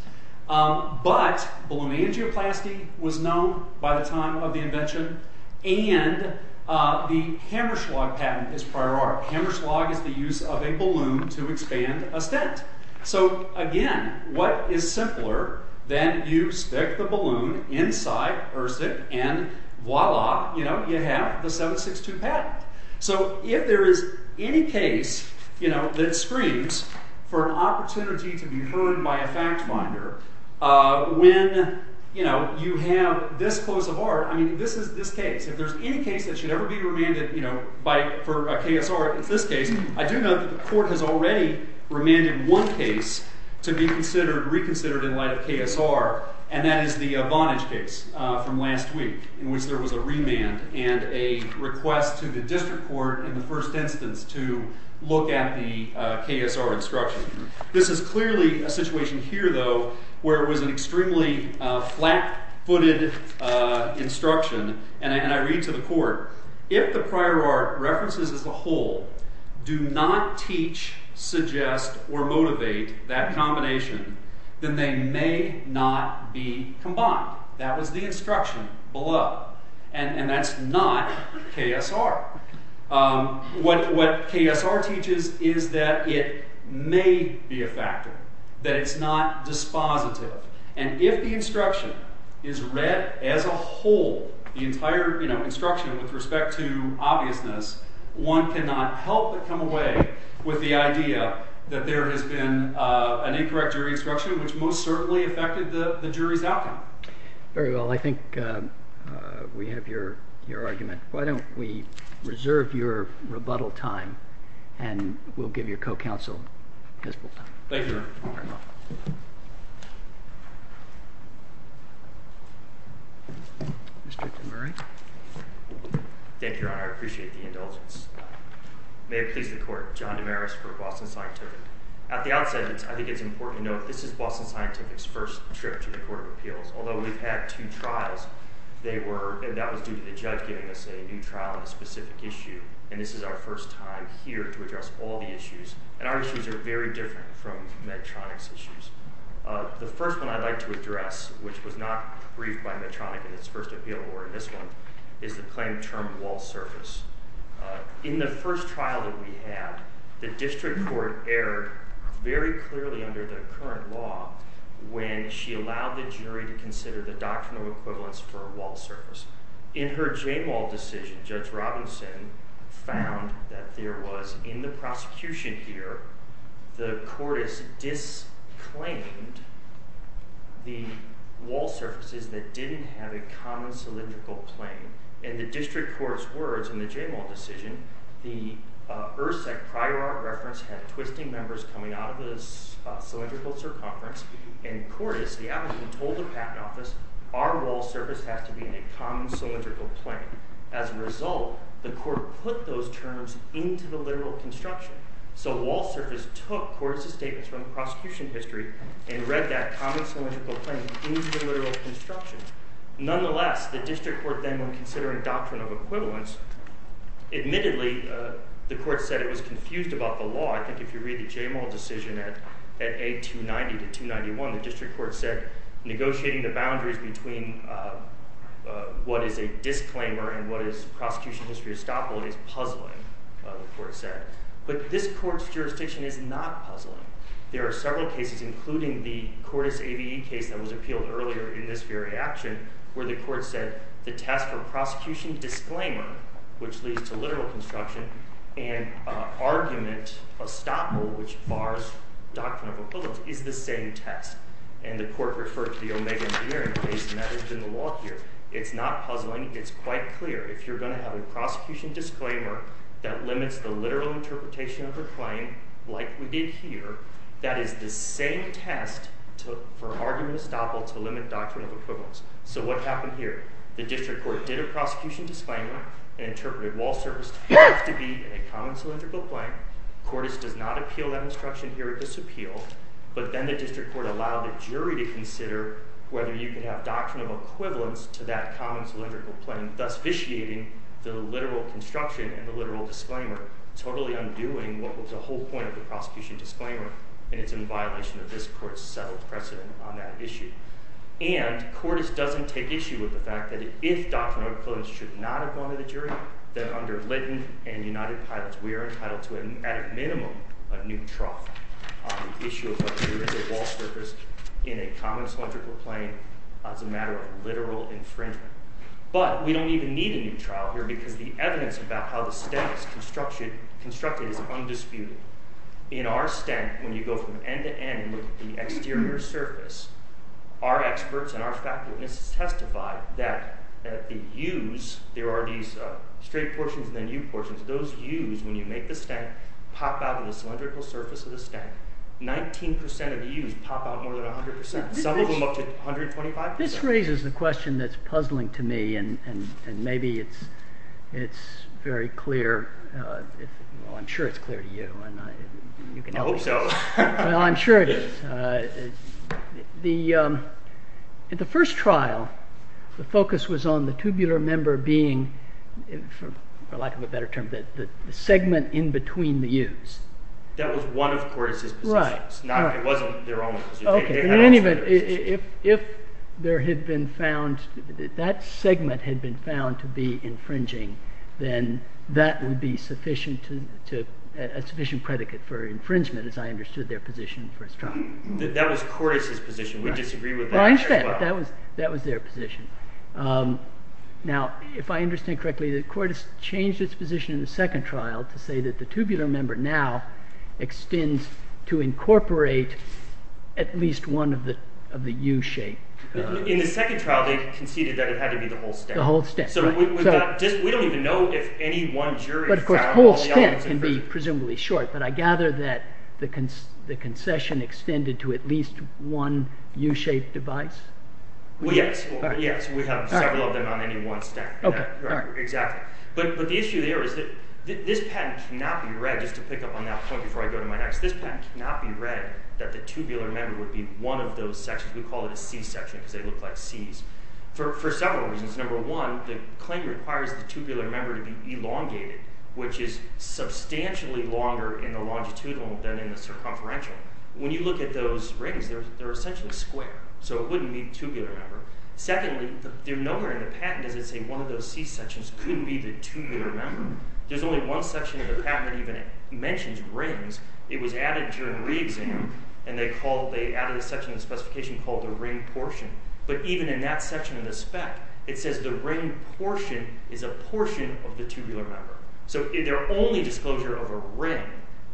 But balloon angioplasty was known by the time of the invention. And the Hammerschlag patent is prior art. Hammerschlag is the use of a balloon to expand a stint. So again, what is simpler than you stick the balloon inside ERSIC, and voila, you have the 762 patent. So if there is any case that screams for an opportunity to be proven by a fact finder, when you have this close of art, I mean, this is this case. If there's any case that should ever be remanded for a KSR, it's this case. I do know that the court has already remanded one case to be reconsidered in light of KSR. And that is the Vonage case from last week, in which there was a remand and a request to the district court in the first instance to look at the KSR instruction. This is clearly a situation here, though, where it was an extremely flat-footed instruction. And I read to the court, if the prior art references as a whole do not teach, suggest, or motivate that combination, then they may not be combined. That was the instruction below. And that's not KSR. What KSR teaches is that it may be a factor, that it's not dispositive. And if the instruction is read as a whole, the entire instruction with respect to obviousness, one cannot help but come away with the idea that there has been an incorrect jury instruction, which most certainly affected the jury's outcome. Very well. I think we have your argument. Why don't we reserve your rebuttal time, and we'll give you co-counsel. Thank you, Your Honor. Mr. DeMaris. Thank you, Your Honor. I appreciate the indulgence. May it please the court, John DeMaris for Boston Scientific. At the outset, I think it's important to note this is Boston Scientific's first trip to the Court of Appeals. Although we've had two trials, and that was due to the judge giving us a new trial on a specific issue. And this is our first time here to address all the issues. And our issues are very different from Medtronic's issues. The first one I'd like to address, which was not briefed by Medtronic in its first appeal board, this one, is the claim termed walled surface. In the first trial that we had, the district court erred very clearly under the current law when she allowed the jury to consider the doctrinal equivalence for a walled surface. In her J-wall decision, Judge Robinson found that there was, in the prosecution here, the court has disclaimed the walled surfaces that didn't have a common cylindrical plane. In the district court's words in the J-wall decision, the ERSEC prior art reference had twisting numbers coming out of the cylindrical circumference. In court, the applicant told the patent office, our walled surface has to be in a common cylindrical plane. As a result, the court put those terms into the literal construction. So the walled surface took courses taken from the prosecution history and read that common cylindrical plane into the literal construction. Nonetheless, the district court then was considering doctrinal equivalence. Admittedly, the court said it was confused about the law. I think if you read the J-wall decision at 8290 to 291, the district court said negotiating the boundaries between what is a disclaimer and what is prosecution history estoppel is puzzling, the court said. But this court's jurisdiction is not puzzling. There are several cases, including the Cordes ABE case that was appealed earlier in this very action, where the court said the test for prosecution disclaimer, which leads to literal construction, and an argument estoppel, which bars doctrinal equivalence, is the same test. And the court referred to the Omega engineering case, and that is in the law here. It's not puzzling. It's quite clear. If you're going to have a prosecution disclaimer that limits the literal interpretation of the claim, like we did here, that is the same test for argument estoppel to limit doctrinal equivalence. So what happened here? The district court did a prosecution disclaimer and interpreted walled surface to be a common cylindrical plane. Cordes did not appeal that instruction here. It was appealed. But then the district court allowed the jury to consider whether you can have doctrinal equivalence to that common cylindrical plane, thus vitiating the literal construction and the literal disclaimer, totally undoing what was the whole point of the prosecution disclaimer. And it's in violation of the district court's settled precedent on that issue. And Cordes doesn't take issue with the fact that if doctrinal equivalence should not apply to the jury, then under Lytton and United Pilots, we are entitled to, at a minimum, a new trial on the issue of how to do a wall surface in a common cylindrical plane as a matter of literal infringement. But we don't even need a new trial here because the evidence about how the stent is constructed is undisputed. In our stent, when you go from end to end with the exterior surface, our experts and our faculty testify that the use, there are these straight portions of the new portions. Those use, when you make the stent, pop out of the cylindrical surface of the stent. 19% of the use pop out more than 100%. Some of them up to 125%. This raises a question that's puzzling to me. And maybe it's very clear. I'm sure it's clear to you. I hope so. Well, I'm sure it is. The first trial, the focus was on the tubular member being, for lack of a better term, the segment in between the use. That was one of Cordes' positions. It wasn't their own position. If that segment had been found to be infringing, then that would be a sufficient predicate for infringement, as I understood their position in the first trial. That was Cordes' position. We disagree with that. Well, I understand. That was their position. Now, if I understand correctly, Cordes changed its position in the second trial to say that the tubular member now extends to incorporate at least one of the U-shaped. In the second trial, they conceded that it had to be the whole stent. The whole stent. So we don't even know if any one jury found the whole stent. But of course, whole stent can be presumably short. But I gather that the concession extended to at least one U-shaped device? Yes. Yes, we have several of them on any one stent. Exactly. But the issue there is that this patent cannot be read, just to pick up on that point before I go to my next, this patent cannot be read that the tubular member would be one of those sections. We call it a C-section because they look like C's. For several reasons. Number one, the claim requires the tubular member to be elongated, which is substantially longer in the longitudinal than in the circumferential. When you look at those rings, they're essentially square. So it wouldn't be the tubular member. Secondly, they're nowhere in the patent does it say one of those C-sections couldn't be the tubular member. There's only one section of the patent that even mentions rings. It was added during reading. And they added a section in the specification called the ring portion. But even in that section of the spec, it says the ring portion is a portion of the tubular member. So their only disclosure of a ring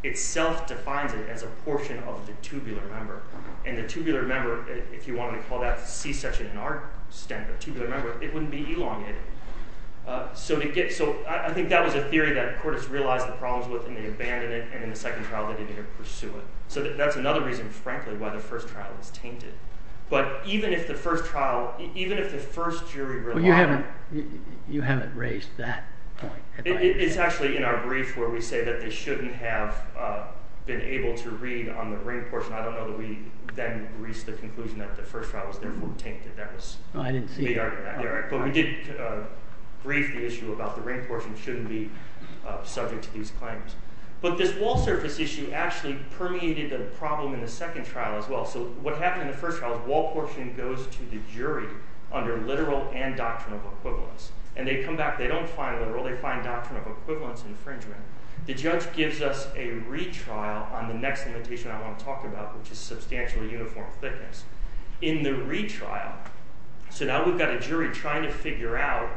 itself defines it as a portion of the tubular member. And the tubular member, if you wanted to call that a C-section in our extent, the tubular member, it wouldn't be elongated. So I think that was a theory that the court has realized the problems with. And they abandoned it. And in the second trial, they didn't even pursue it. So that's another reason, frankly, why the first trial was tainted. But even if the first trial, even if the first jury relied on it. You haven't raised that point. It's actually in our brief where we say that they shouldn't have been able to read on the ring portion. I don't know that we then reached the conclusion that the first trial was therefore tainted. That was a big argument there. But we did raise the issue about the ring portion shouldn't be subject to these claims. But this wall surface issue actually permeated the problem in the second trial as well. So what happened in the first trial, the wall portion goes to the jury under literal and doctrinal equivalence. And they come back. They don't find a rule. They find doctrinal equivalence infringement. The judge gives us a retrial on the next limitation I want to talk about, which is substantially uniform thickness. In the retrial, so now we've got a jury trying to figure out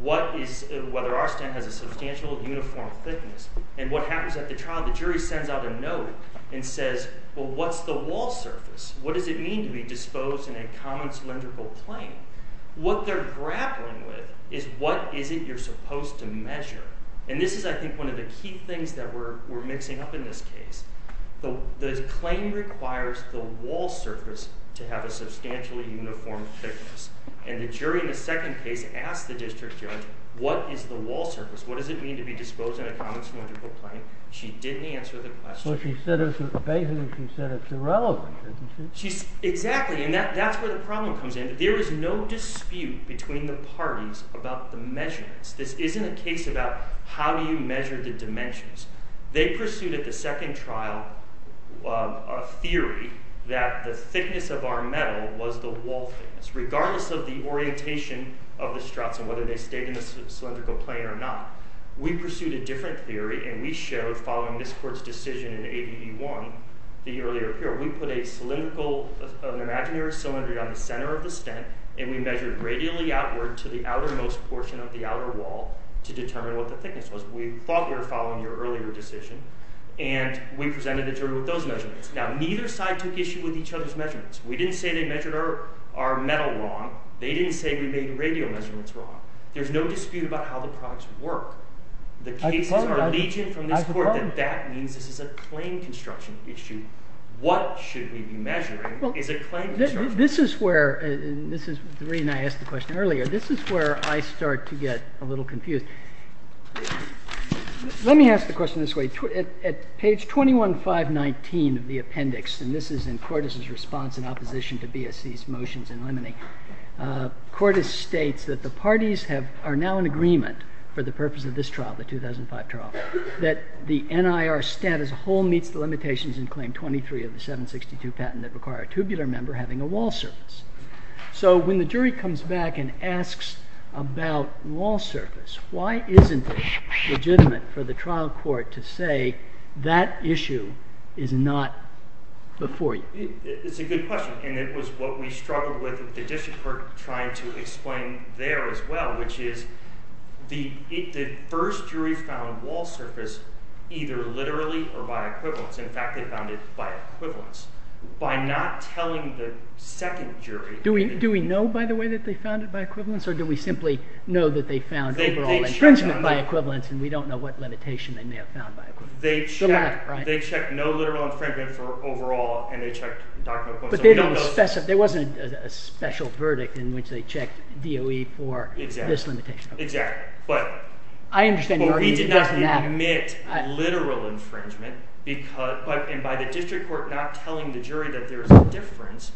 whether our stand has a substantial uniform thickness. And what happens at the trial, the jury sends out a note and says, well, what's the wall surface? What does it mean to be disposed in a common cylindrical plane? What they're grappling with is what is it you're supposed to measure? And this is, I think, one of the key things that we're mixing up in this case. The claim requires the wall surface to have a substantially uniform thickness. And the jury in the second case asked the district judge, what is the wall surface? What does it mean to be disposed in a common cylindrical plane? She didn't answer the question. So she said it's a phase and she said it's irrelevant. Exactly. And that's where the problem comes in. There is no dispute between the parties about the measurements. This isn't a case about how do you measure the dimensions. They pursued at the second trial a theory that the thickness of our metal was the wall thickness. Regardless of the orientation of the struts and whether they stayed in a cylindrical plane or not, we pursued a different theory. And we showed, following this court's decision in ABD1, the earlier theory. We put a cylindrical, an imaginary cylinder on the center of the stent. And we measured radially outward to the outermost portion of the outer wall to determine what the thickness was. We thought we were following your earlier decision. And we presented a theory with those measurements. Now, neither side took issue with each other's measurements. We didn't say they measured our metal wrong. They didn't say we made the radial measurements wrong. There's no dispute about how the products would work. The case was our allegiance from this court that that means this is a plane construction issue. What should we be measuring is a plane construction issue. This is where, and this is the reason I asked the question earlier, this is where I start to get a little confused. Let me ask the question this way. At page 21, 519 of the appendix, and this is in Cordes' response in opposition to BSC's motions in limine, Cordes states that the parties are now in agreement for the purpose of this trial, the 2005 trial, that the NIR stent as a whole meets the limitations in claim 23 of the 762 patent that require a tubular member having a wall surface. So when the jury comes back and asks about wall surface, why isn't it legitimate for the trial court to say that issue is not before you? It's a good question. And it was what we struggled with at the district court trying to explain there as well, which is the first jury found wall surface either literally or by equivalence. In fact, they found it by equivalence. By not telling the second jury. Do we know, by the way, that they found it by equivalence? Or do we simply know that they found it by equivalence and we don't know what limitation they may have found by equivalence? They checked no literal infringement for overall and they checked document equivalence. But there wasn't a special verdict in which they checked DOE for this limitation. Exactly. But we did not admit literal infringement. And by the district court not telling the jury that there's a difference,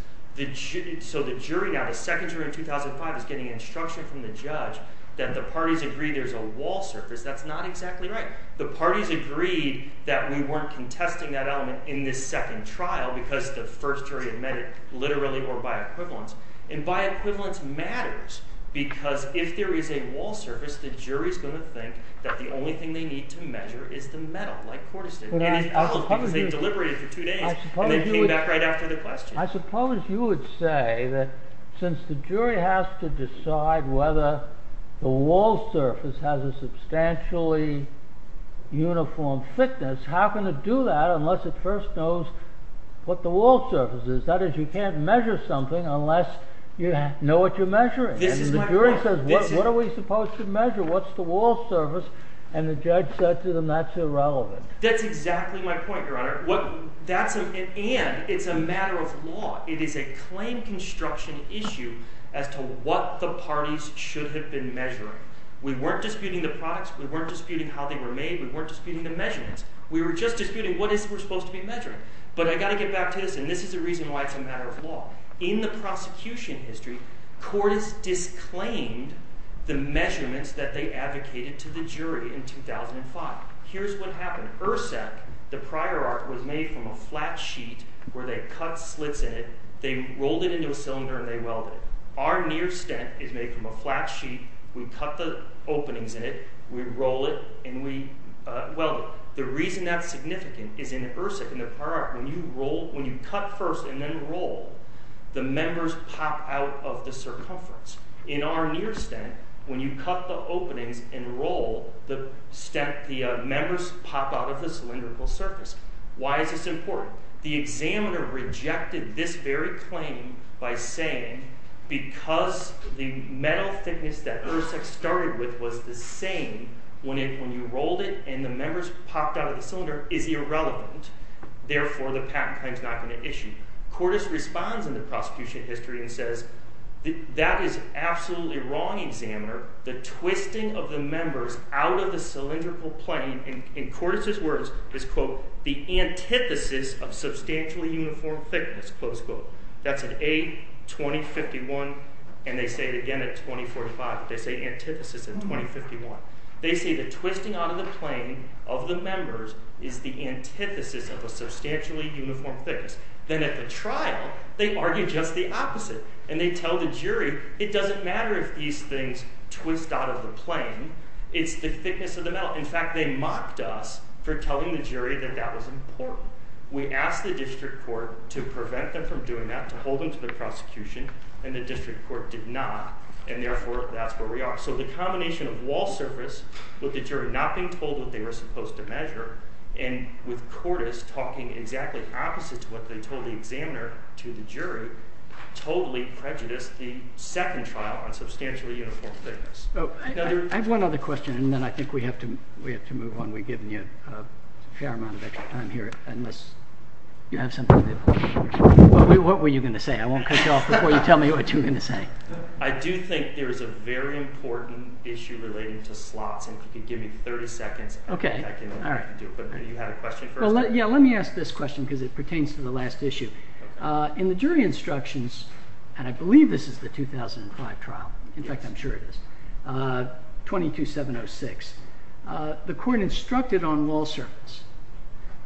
so the jury now, the second jury in 2005 is getting instruction from the judge that the parties agree there's a wall surface. That's not exactly right. The parties agreed that we weren't contesting that element in this second trial because the first jury admitted literally or by equivalence. And by equivalence matters because if there is a wall surface, the jury's going to think that the only thing they need to measure is the metal, like Cortes did. And they deliberated for two days. And they came back right after the question. I suppose you would say that since the jury has to decide whether the wall surface has a substantially uniform thickness, how can it do that unless it first knows what the wall surface is? That is, you can't measure something unless you know what you're measuring. And the jury says, what are we supposed to measure? What's the wall surface? That's exactly my point, Your Honor. And it's a matter of law. It is a claim construction issue as to what the parties should have been measuring. We weren't disputing the products. We weren't disputing how they were made. We weren't disputing the measurements. We were just disputing what else was supposed to be measured. But I've got to get back to this. And this is the reason why it's a matter of law. In the prosecution history, Cortes disclaimed the measurements that they advocated to the jury in 2005. Here's what happened. In IRSEC, the prior art was made from a flat sheet where they cut slits in it. They rolled it into a cylinder, and they welded it. Our near stent is made from a flat sheet. We cut the openings in it. We roll it, and we weld it. The reason that's significant is in IRSEC, in the prior art, when you cut first and then roll, the members pop out of the circumference. In our near stent, when you cut the openings and roll, the members pop out of the cylindrical surface. Why is this important? The examiner rejected this very claim by saying, because the metal thickness that IRSEC started with was the same, when you rolled it and the members popped out of the cylinder, it's irrelevant. Therefore, the patent claim's not going to issue. Cortes responds in the prosecution history and says, that is absolutely wrong, examiner. The twisting of the members out of the cylindrical plane, in Cortes' words, is quote, the antithesis of substantially uniform thickness, close quote. That's at age 2051, and they say it again at 2045. They say antithesis in 2051. They say the twisting out of the plane of the members is the antithesis of a substantially uniform thickness. Then at the trial, they argue just the opposite, and they tell the jury, it doesn't matter if these things twist out of the plane, it's the thickness of the metal. In fact, they mocked us for telling the jury that that was important. We asked the district court to prevent them from doing that, to hold them to the prosecution, and the district court did not, and therefore, that's where we are. So the combination of wall surface, with the jury not being told what they were supposed to measure, and with Cortes talking exactly the opposite to what they told the examiner to the jury, totally prejudiced the second trial on substantially uniform thickness. I have one other question, and then I think we have to move on. We've given you a fair amount of extra time here, unless you have something that you want to say. What were you going to say? I won't cut you off before you tell me what you were going to say. I do think there is a very important issue related to slots, and I can give you 30 seconds, and then I can do it quickly. You had a question? Yeah, let me ask this question, because it pertains to the last issue. In the jury instructions, and I believe this is the 2005 trial, in fact, I'm sure it is, 22706, the court instructed on wall surface,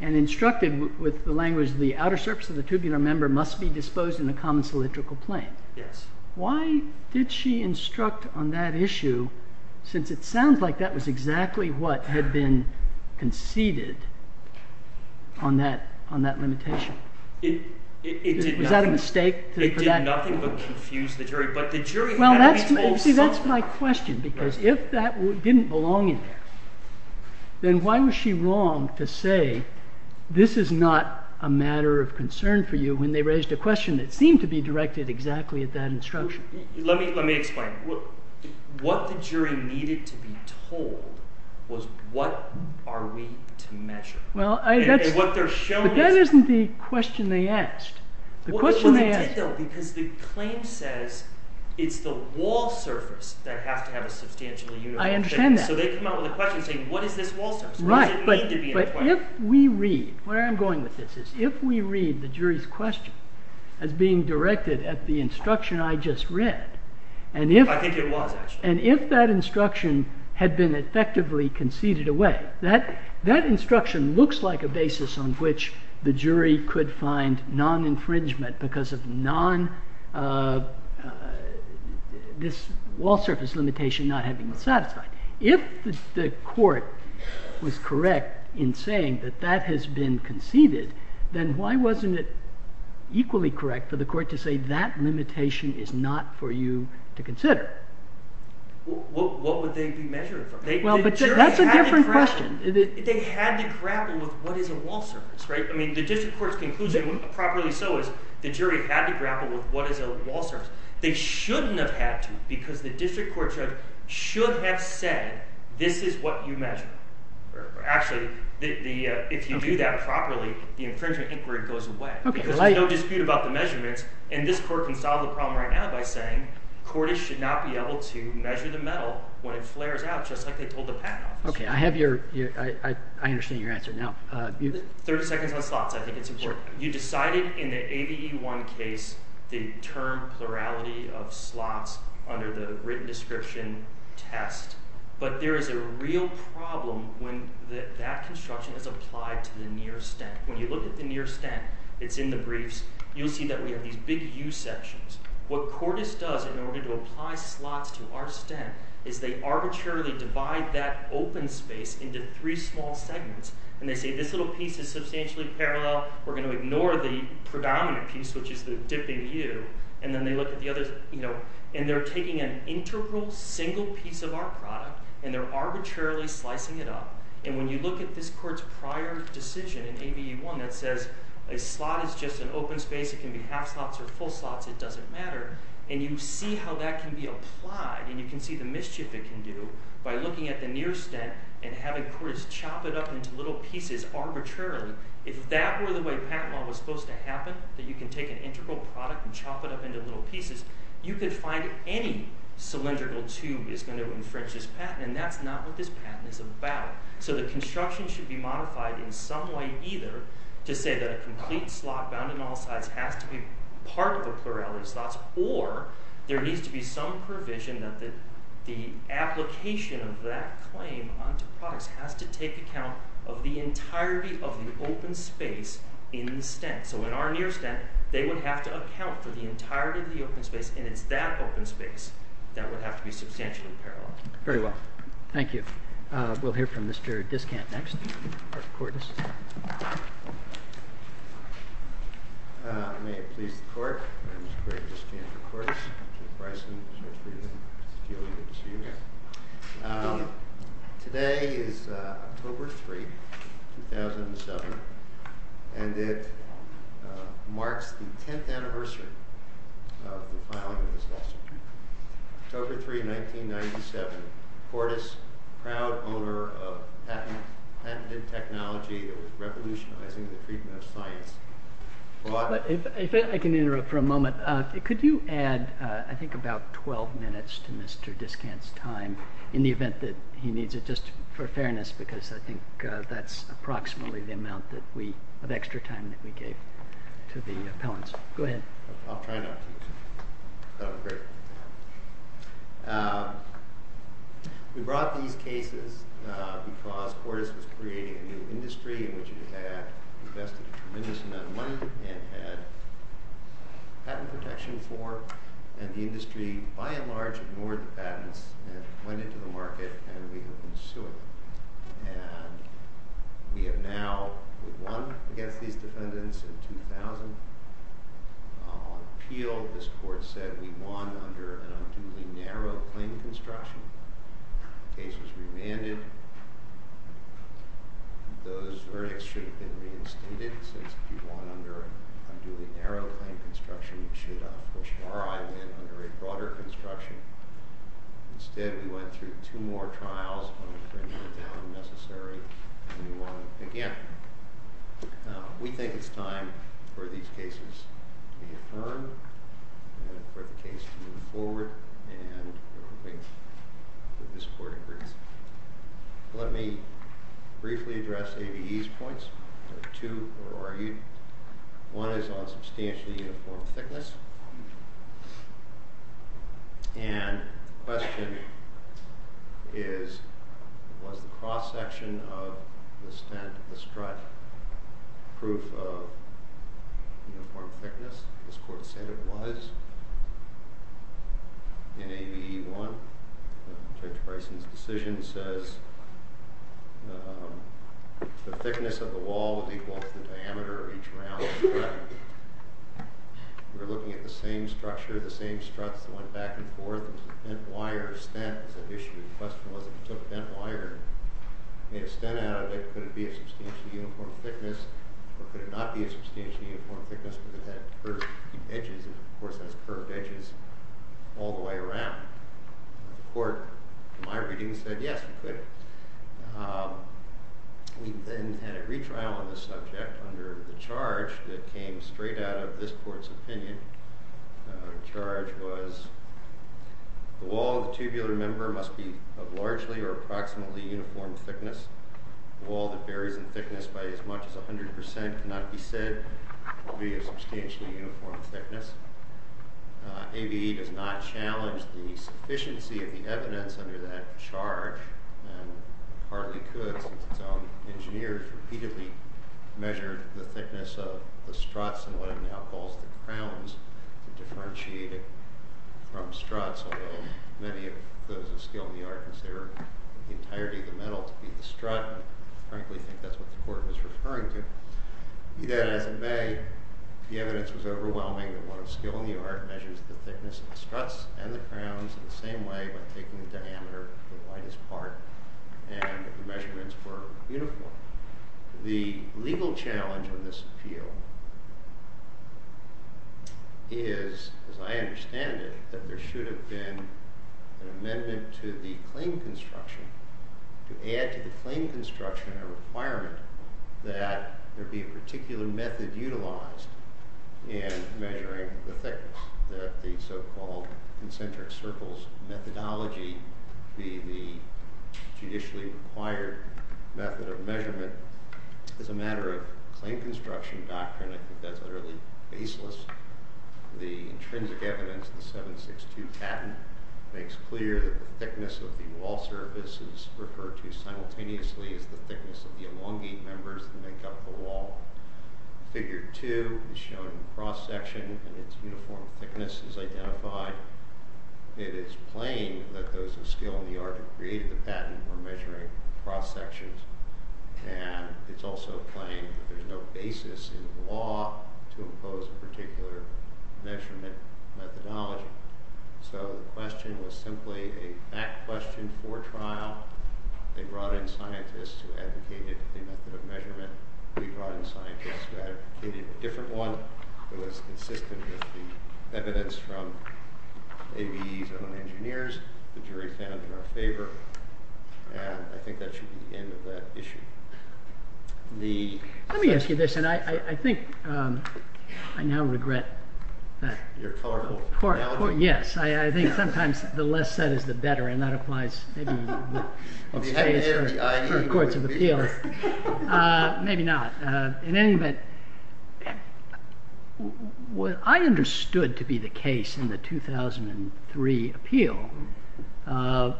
and instructed with the language the outer surface of the tubular member must be disposed in the common cylindrical plane. Yes. Why did she instruct on that issue, since it sounds like that was exactly what had been conceded on that limitation? Is that a mistake? They did nothing but confuse the jury, but the jury... Well, see, that's my question, because if that didn't belong in there, then why was she wrong to say this is not a matter of concern for you when they raised a question that seemed to be directed exactly at that instruction? Let me explain. What the jury needed to be told was what are we to measure. But that isn't the question they asked. The question they asked... Because the claim says it's the wall surface that has to have a substantially uniform... I understand that. So they come up with a question saying what is this wall surface? Right, but if we read... Where I'm going with this is if we read the jury's question as being directed at the instruction I just read, and if that instruction had been effectively conceded away, that instruction looks like a basis on which the jury could find non-infringement because of this wall surface limitation not having been satisfied. If the court was correct in saying that that has been conceded, then why wasn't it equally correct for the court to say that limitation is not for you to consider? What would they be measuring from? That's a different question. They had to grapple with what is a wall surface. The district court's conclusion, properly so, is the jury had to grapple with what is a wall surface. They shouldn't have had to because the district court should have said this is what you measure. Actually, if you do that properly, the infringement inquiry goes away. There's no dispute about the measurements, and this court can solve the problem right now by saying the court should not be able to measure the metal when it flares out just like they told the patent officer. Okay, I understand your answer. 30 seconds on slots. I think it's important. You decided in the ABE-1 case the term plurality of slots under the written description test, but there is a real problem when that construction is applied to the near stent. When you look at the near stent, it's in the briefs, you'll see that we have these big U-sections. What Cordes does in order to apply slots to our stent is they arbitrarily divide that open space into three small segments, and they say this little piece is substantially parallel. We're going to ignore the predominant piece, which is the dip in the U, and then they look at the other, you know, and they're taking an integral single piece of our product, and they're arbitrarily slicing it up, and when you look at this court's prior decision in ABE-1 that says a slot is just an open space. It can be half slots or full slots. It doesn't matter, and you see how that can be applied, and you can see the mischief it can do by looking at the near stent and having Cordes chop it up into little pieces arbitrarily. If that were the way patent law was supposed to happen, that you can take an integral product and chop it up into little pieces, you could find any cylindrical tube is going to infringe this patent, and that's not what this patent is about. So the construction should be modified in some way either to say that a complete slot bound to model size has to be part of a parallel slot, or there needs to be some provision that the application of that claim onto products has to take account of the entirety of the open space in the stent. So in our near stent, they would have to account for the entirety of the open space, and it's that open space that would have to be substantially parallelized. Very well. Thank you. We'll hear from Mr. Discant next, or Cordes. May it please the court, Mr. Discant and Mr. Cordes, Mr. Bryson, Mr. O'Brien, Julie, and Mr. Schumann. Today is October 3, 2007, and it marks the 10th anniversary of the filing of this statute. October 3, 1997, Cordes, proud owner of patented technology of revolutionizing the treatment of science. If I can interrupt for a moment, could you add, I think, about 12 minutes to Mr. Discant's time in the event that he needs it, just for fairness, because I think that's approximately the amount of extra time that we gave to the appellants. Go ahead. I'll try not to. We brought these cases because Cordes was creating a new industry in which he had invested tremendously and had patent protection for, and the industry, by and large, ignored the patents, and it went into the market, and we couldn't sue it. And we have now won against these defendants in 2000. On appeal, this court said, we won under a narrow claim to instruction. The case was re-managed. Though this verdict should have been extended since we won under a narrow claim to instruction, we should have pushed hard and went under a broader instruction. Instead, we went through two more trials, and things went down necessary, and we won again. We think it's time for these cases to be deferred, and for the case to move forward, and wait for this court to hear. Let me briefly address ABE's points. I have two for ABE. One is on substantially uniform thickness. And the question is, was the cross-section of the stent, the strut, proof of uniform thickness? This court said it was. In ABE 1, Judge Bryson's decision says, the thickness of the wall is equal to the diameter of each round. We're looking at the same structure, the same strut going back and forth. The bent wire, the stent, the question was, if it's a bent wire, and you get a stent out of it, could it be a substantially uniform thickness? Or could it not be a substantially uniform thickness because it has curved edges? Of course, it has curved edges all the way around. The court, in my reading, said yes, it could. We then had a retrial on this subject under the charge that came straight out of this court's opinion. The charge was, the wall of the tibial member must be of largely or approximately uniform thickness. The wall that varies in thickness by as much as 100% could not be said to be a substantially uniform thickness. ABE does not challenge the sufficiency of the evidence under that charge, and hardly could. So, engineers repeatedly measured the thickness of the struts and whatever the alcohols in the crowns differentiated from struts, although many of those of skill in the art consider the entirety of the metal to be the strut. Frankly, I think that's what the court was referring to. Either way, the evidence was overwhelming that what was still in the art measures the thickness of the struts and the crowns in the same way by taking the diameter to the lightest part, and the measurements were uniform. The legal challenge of this appeal is, as I understand it, that there should have been an amendment to the claim construction to add to the claim construction a requirement that there be a particular method utilized in measuring the thickness. That the so-called concentric circles methodology, the judicially required method of measurement, is a matter of claim construction doctrine that is utterly faceless. The intrinsic evidence in 762-10 makes clear that the thickness of the wall surface is referred to simultaneously as the thickness of the elongate members that make up the wall. Figure 2 is showing cross-section and its uniform thickness is identified. It is plain that those of skill in the art that created the patent were measuring cross-sections. And it's also plain that there's no basis in the law to impose a particular measurement methodology. So the question was simply a fact question for trial. They brought in scientists who advocated the method of measurement and they brought in scientists who advocated a different one that was consistent with the evidence from ABE's own engineers, the jury found in their favor, and I think that should be the end of that issue. Let me ask you this, and I think I now regret that. Your clerical penalty? Yes, I think sometimes the less said is the better, and that applies maybe to the first courts of appeal. Maybe not. In any event, what I understood to be the case in the 2003 appeal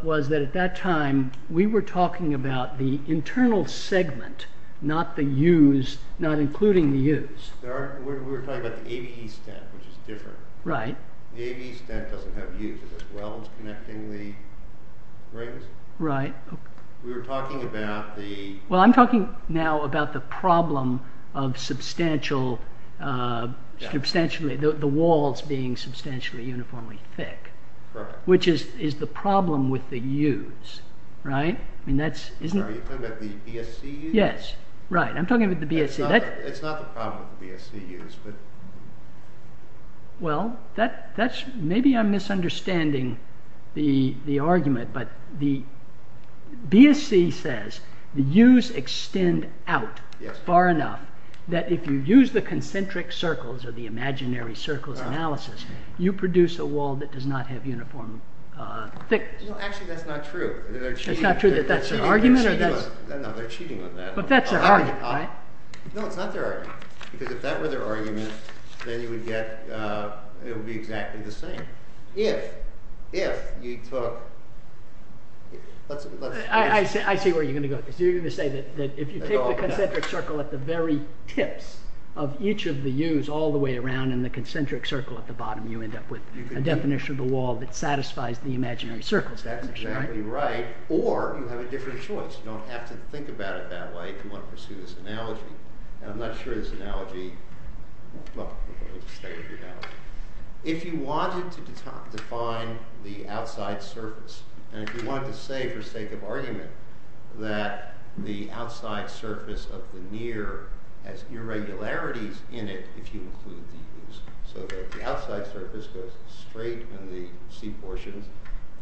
was that at that time we were talking about the internal segment, not the use, not including the use. We were talking about the ABE step, which is different. Right. The ABE step doesn't have use as well as connecting the rings. Right. We were talking about the... Well, I'm talking now about the problem of the walls being substantially uniformly thick, which is the problem with the use. Right? Are you talking about the BSC use? Yes. Right, I'm talking about the BSC. That's not the problem with the BSC use. Well, maybe I'm misunderstanding the argument, but the BSC says the use extend out far enough that if you use the concentric circles of the imaginary circle analysis, you produce a wall that does not have uniform thickness. Actually, that's not true. It's not true that that's an argument? No, they're cheating with that. But that's their argument, right? No, it's not their argument, because if that were their argument, then you would get, it would be exactly the same. If, if you... I see where you're going to go. You're going to say that if you take the concentric circle at the very tip of each of the use all the way around and the concentric circle at the bottom, you end up with a definition of the wall that satisfies the imaginary circle definition, right? That's exactly right, or you have a different choice. You don't have to think about it that way if you want to pursue this analogy. I'm not sure this analogy... Well, let me just tell you what your analogy is. If you wanted to define the outside surface, and if you wanted to say, for sake of argument, that the outside surface of the mirror has irregularities in it that you wouldn't use, so that the outside surface goes straight in the C portion,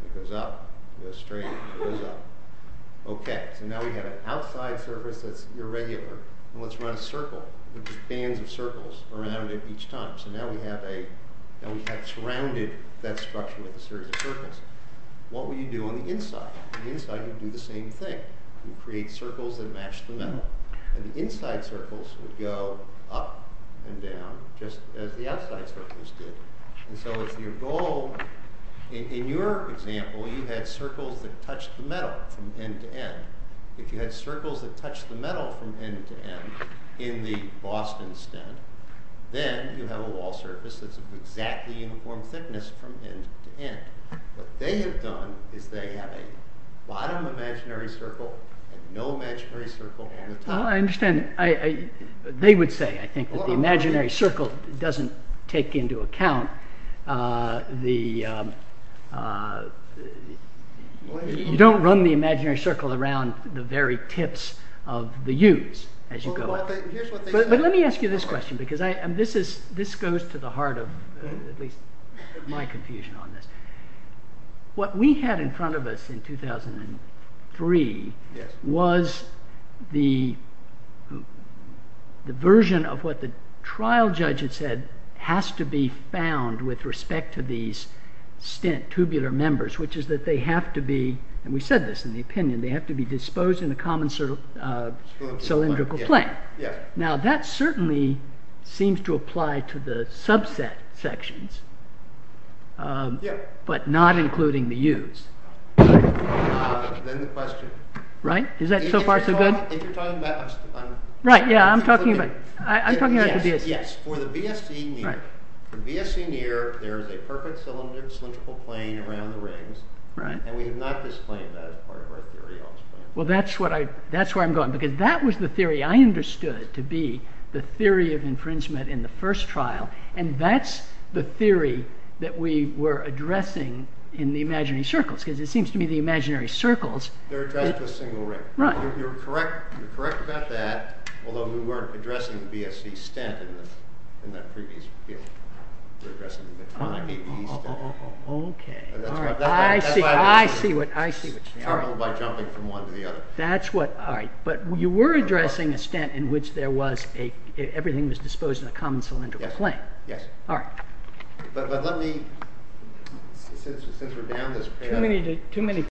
it goes up, goes straight, goes up. Okay, and now we have an outside surface that's irregular, and let's run a circle. There's a chain of circles around it each time. So now we have a... We have surrounded that structure with a series of circles. What would you do on the inside? On the inside, you'd do the same thing. You'd create circles that match the metal. And the inside circles would go up and down just as the outside circles did. And so if your goal... In your example, you had circles that touched the metal from end to end. If you had circles that touched the metal from end to end in the Boston stent, then you have a wall surface that's exactly uniform thickness from end to end. What they have done is they have a bottom imaginary circle and no imaginary circle at the top. Well, I understand. They would say, I think, that the imaginary circle doesn't take into account the... You don't run the imaginary circle around the very tips of the U's as you go up. But let me ask you this question because this goes to the heart of at least my confusion on this. What we had in front of us in 2003 was the version of what the trial judge had said has to be found with respect to these stent tubular members which is that they have to be, and we said this in the opinion, they have to be disposed in the common cylindrical plane. Now, that certainly seems to apply to the subset sections but not including the U's. Then the question... Right? Is that so far so good? If you're talking about... Right, yeah. I'm talking about the BSC. For the BSC near, there is a perfect cylindrical plane around the rings and we have not disclaimed that Well, that's where I'm going because that was the theory I understood to be the theory of infringement in the first trial and that's the theory that we were addressing in the imaginary circles because it seems to me the imaginary circles... They're just a single ring. Right. You're correct about that although we weren't addressing the BSC stent in that previous... Okay. I see what you're saying. That's what I... But you were addressing the stent in which there was a... Everything was disposed in the common cylindrical plane. Yes. All right. But let me... Since we're down this... Too many...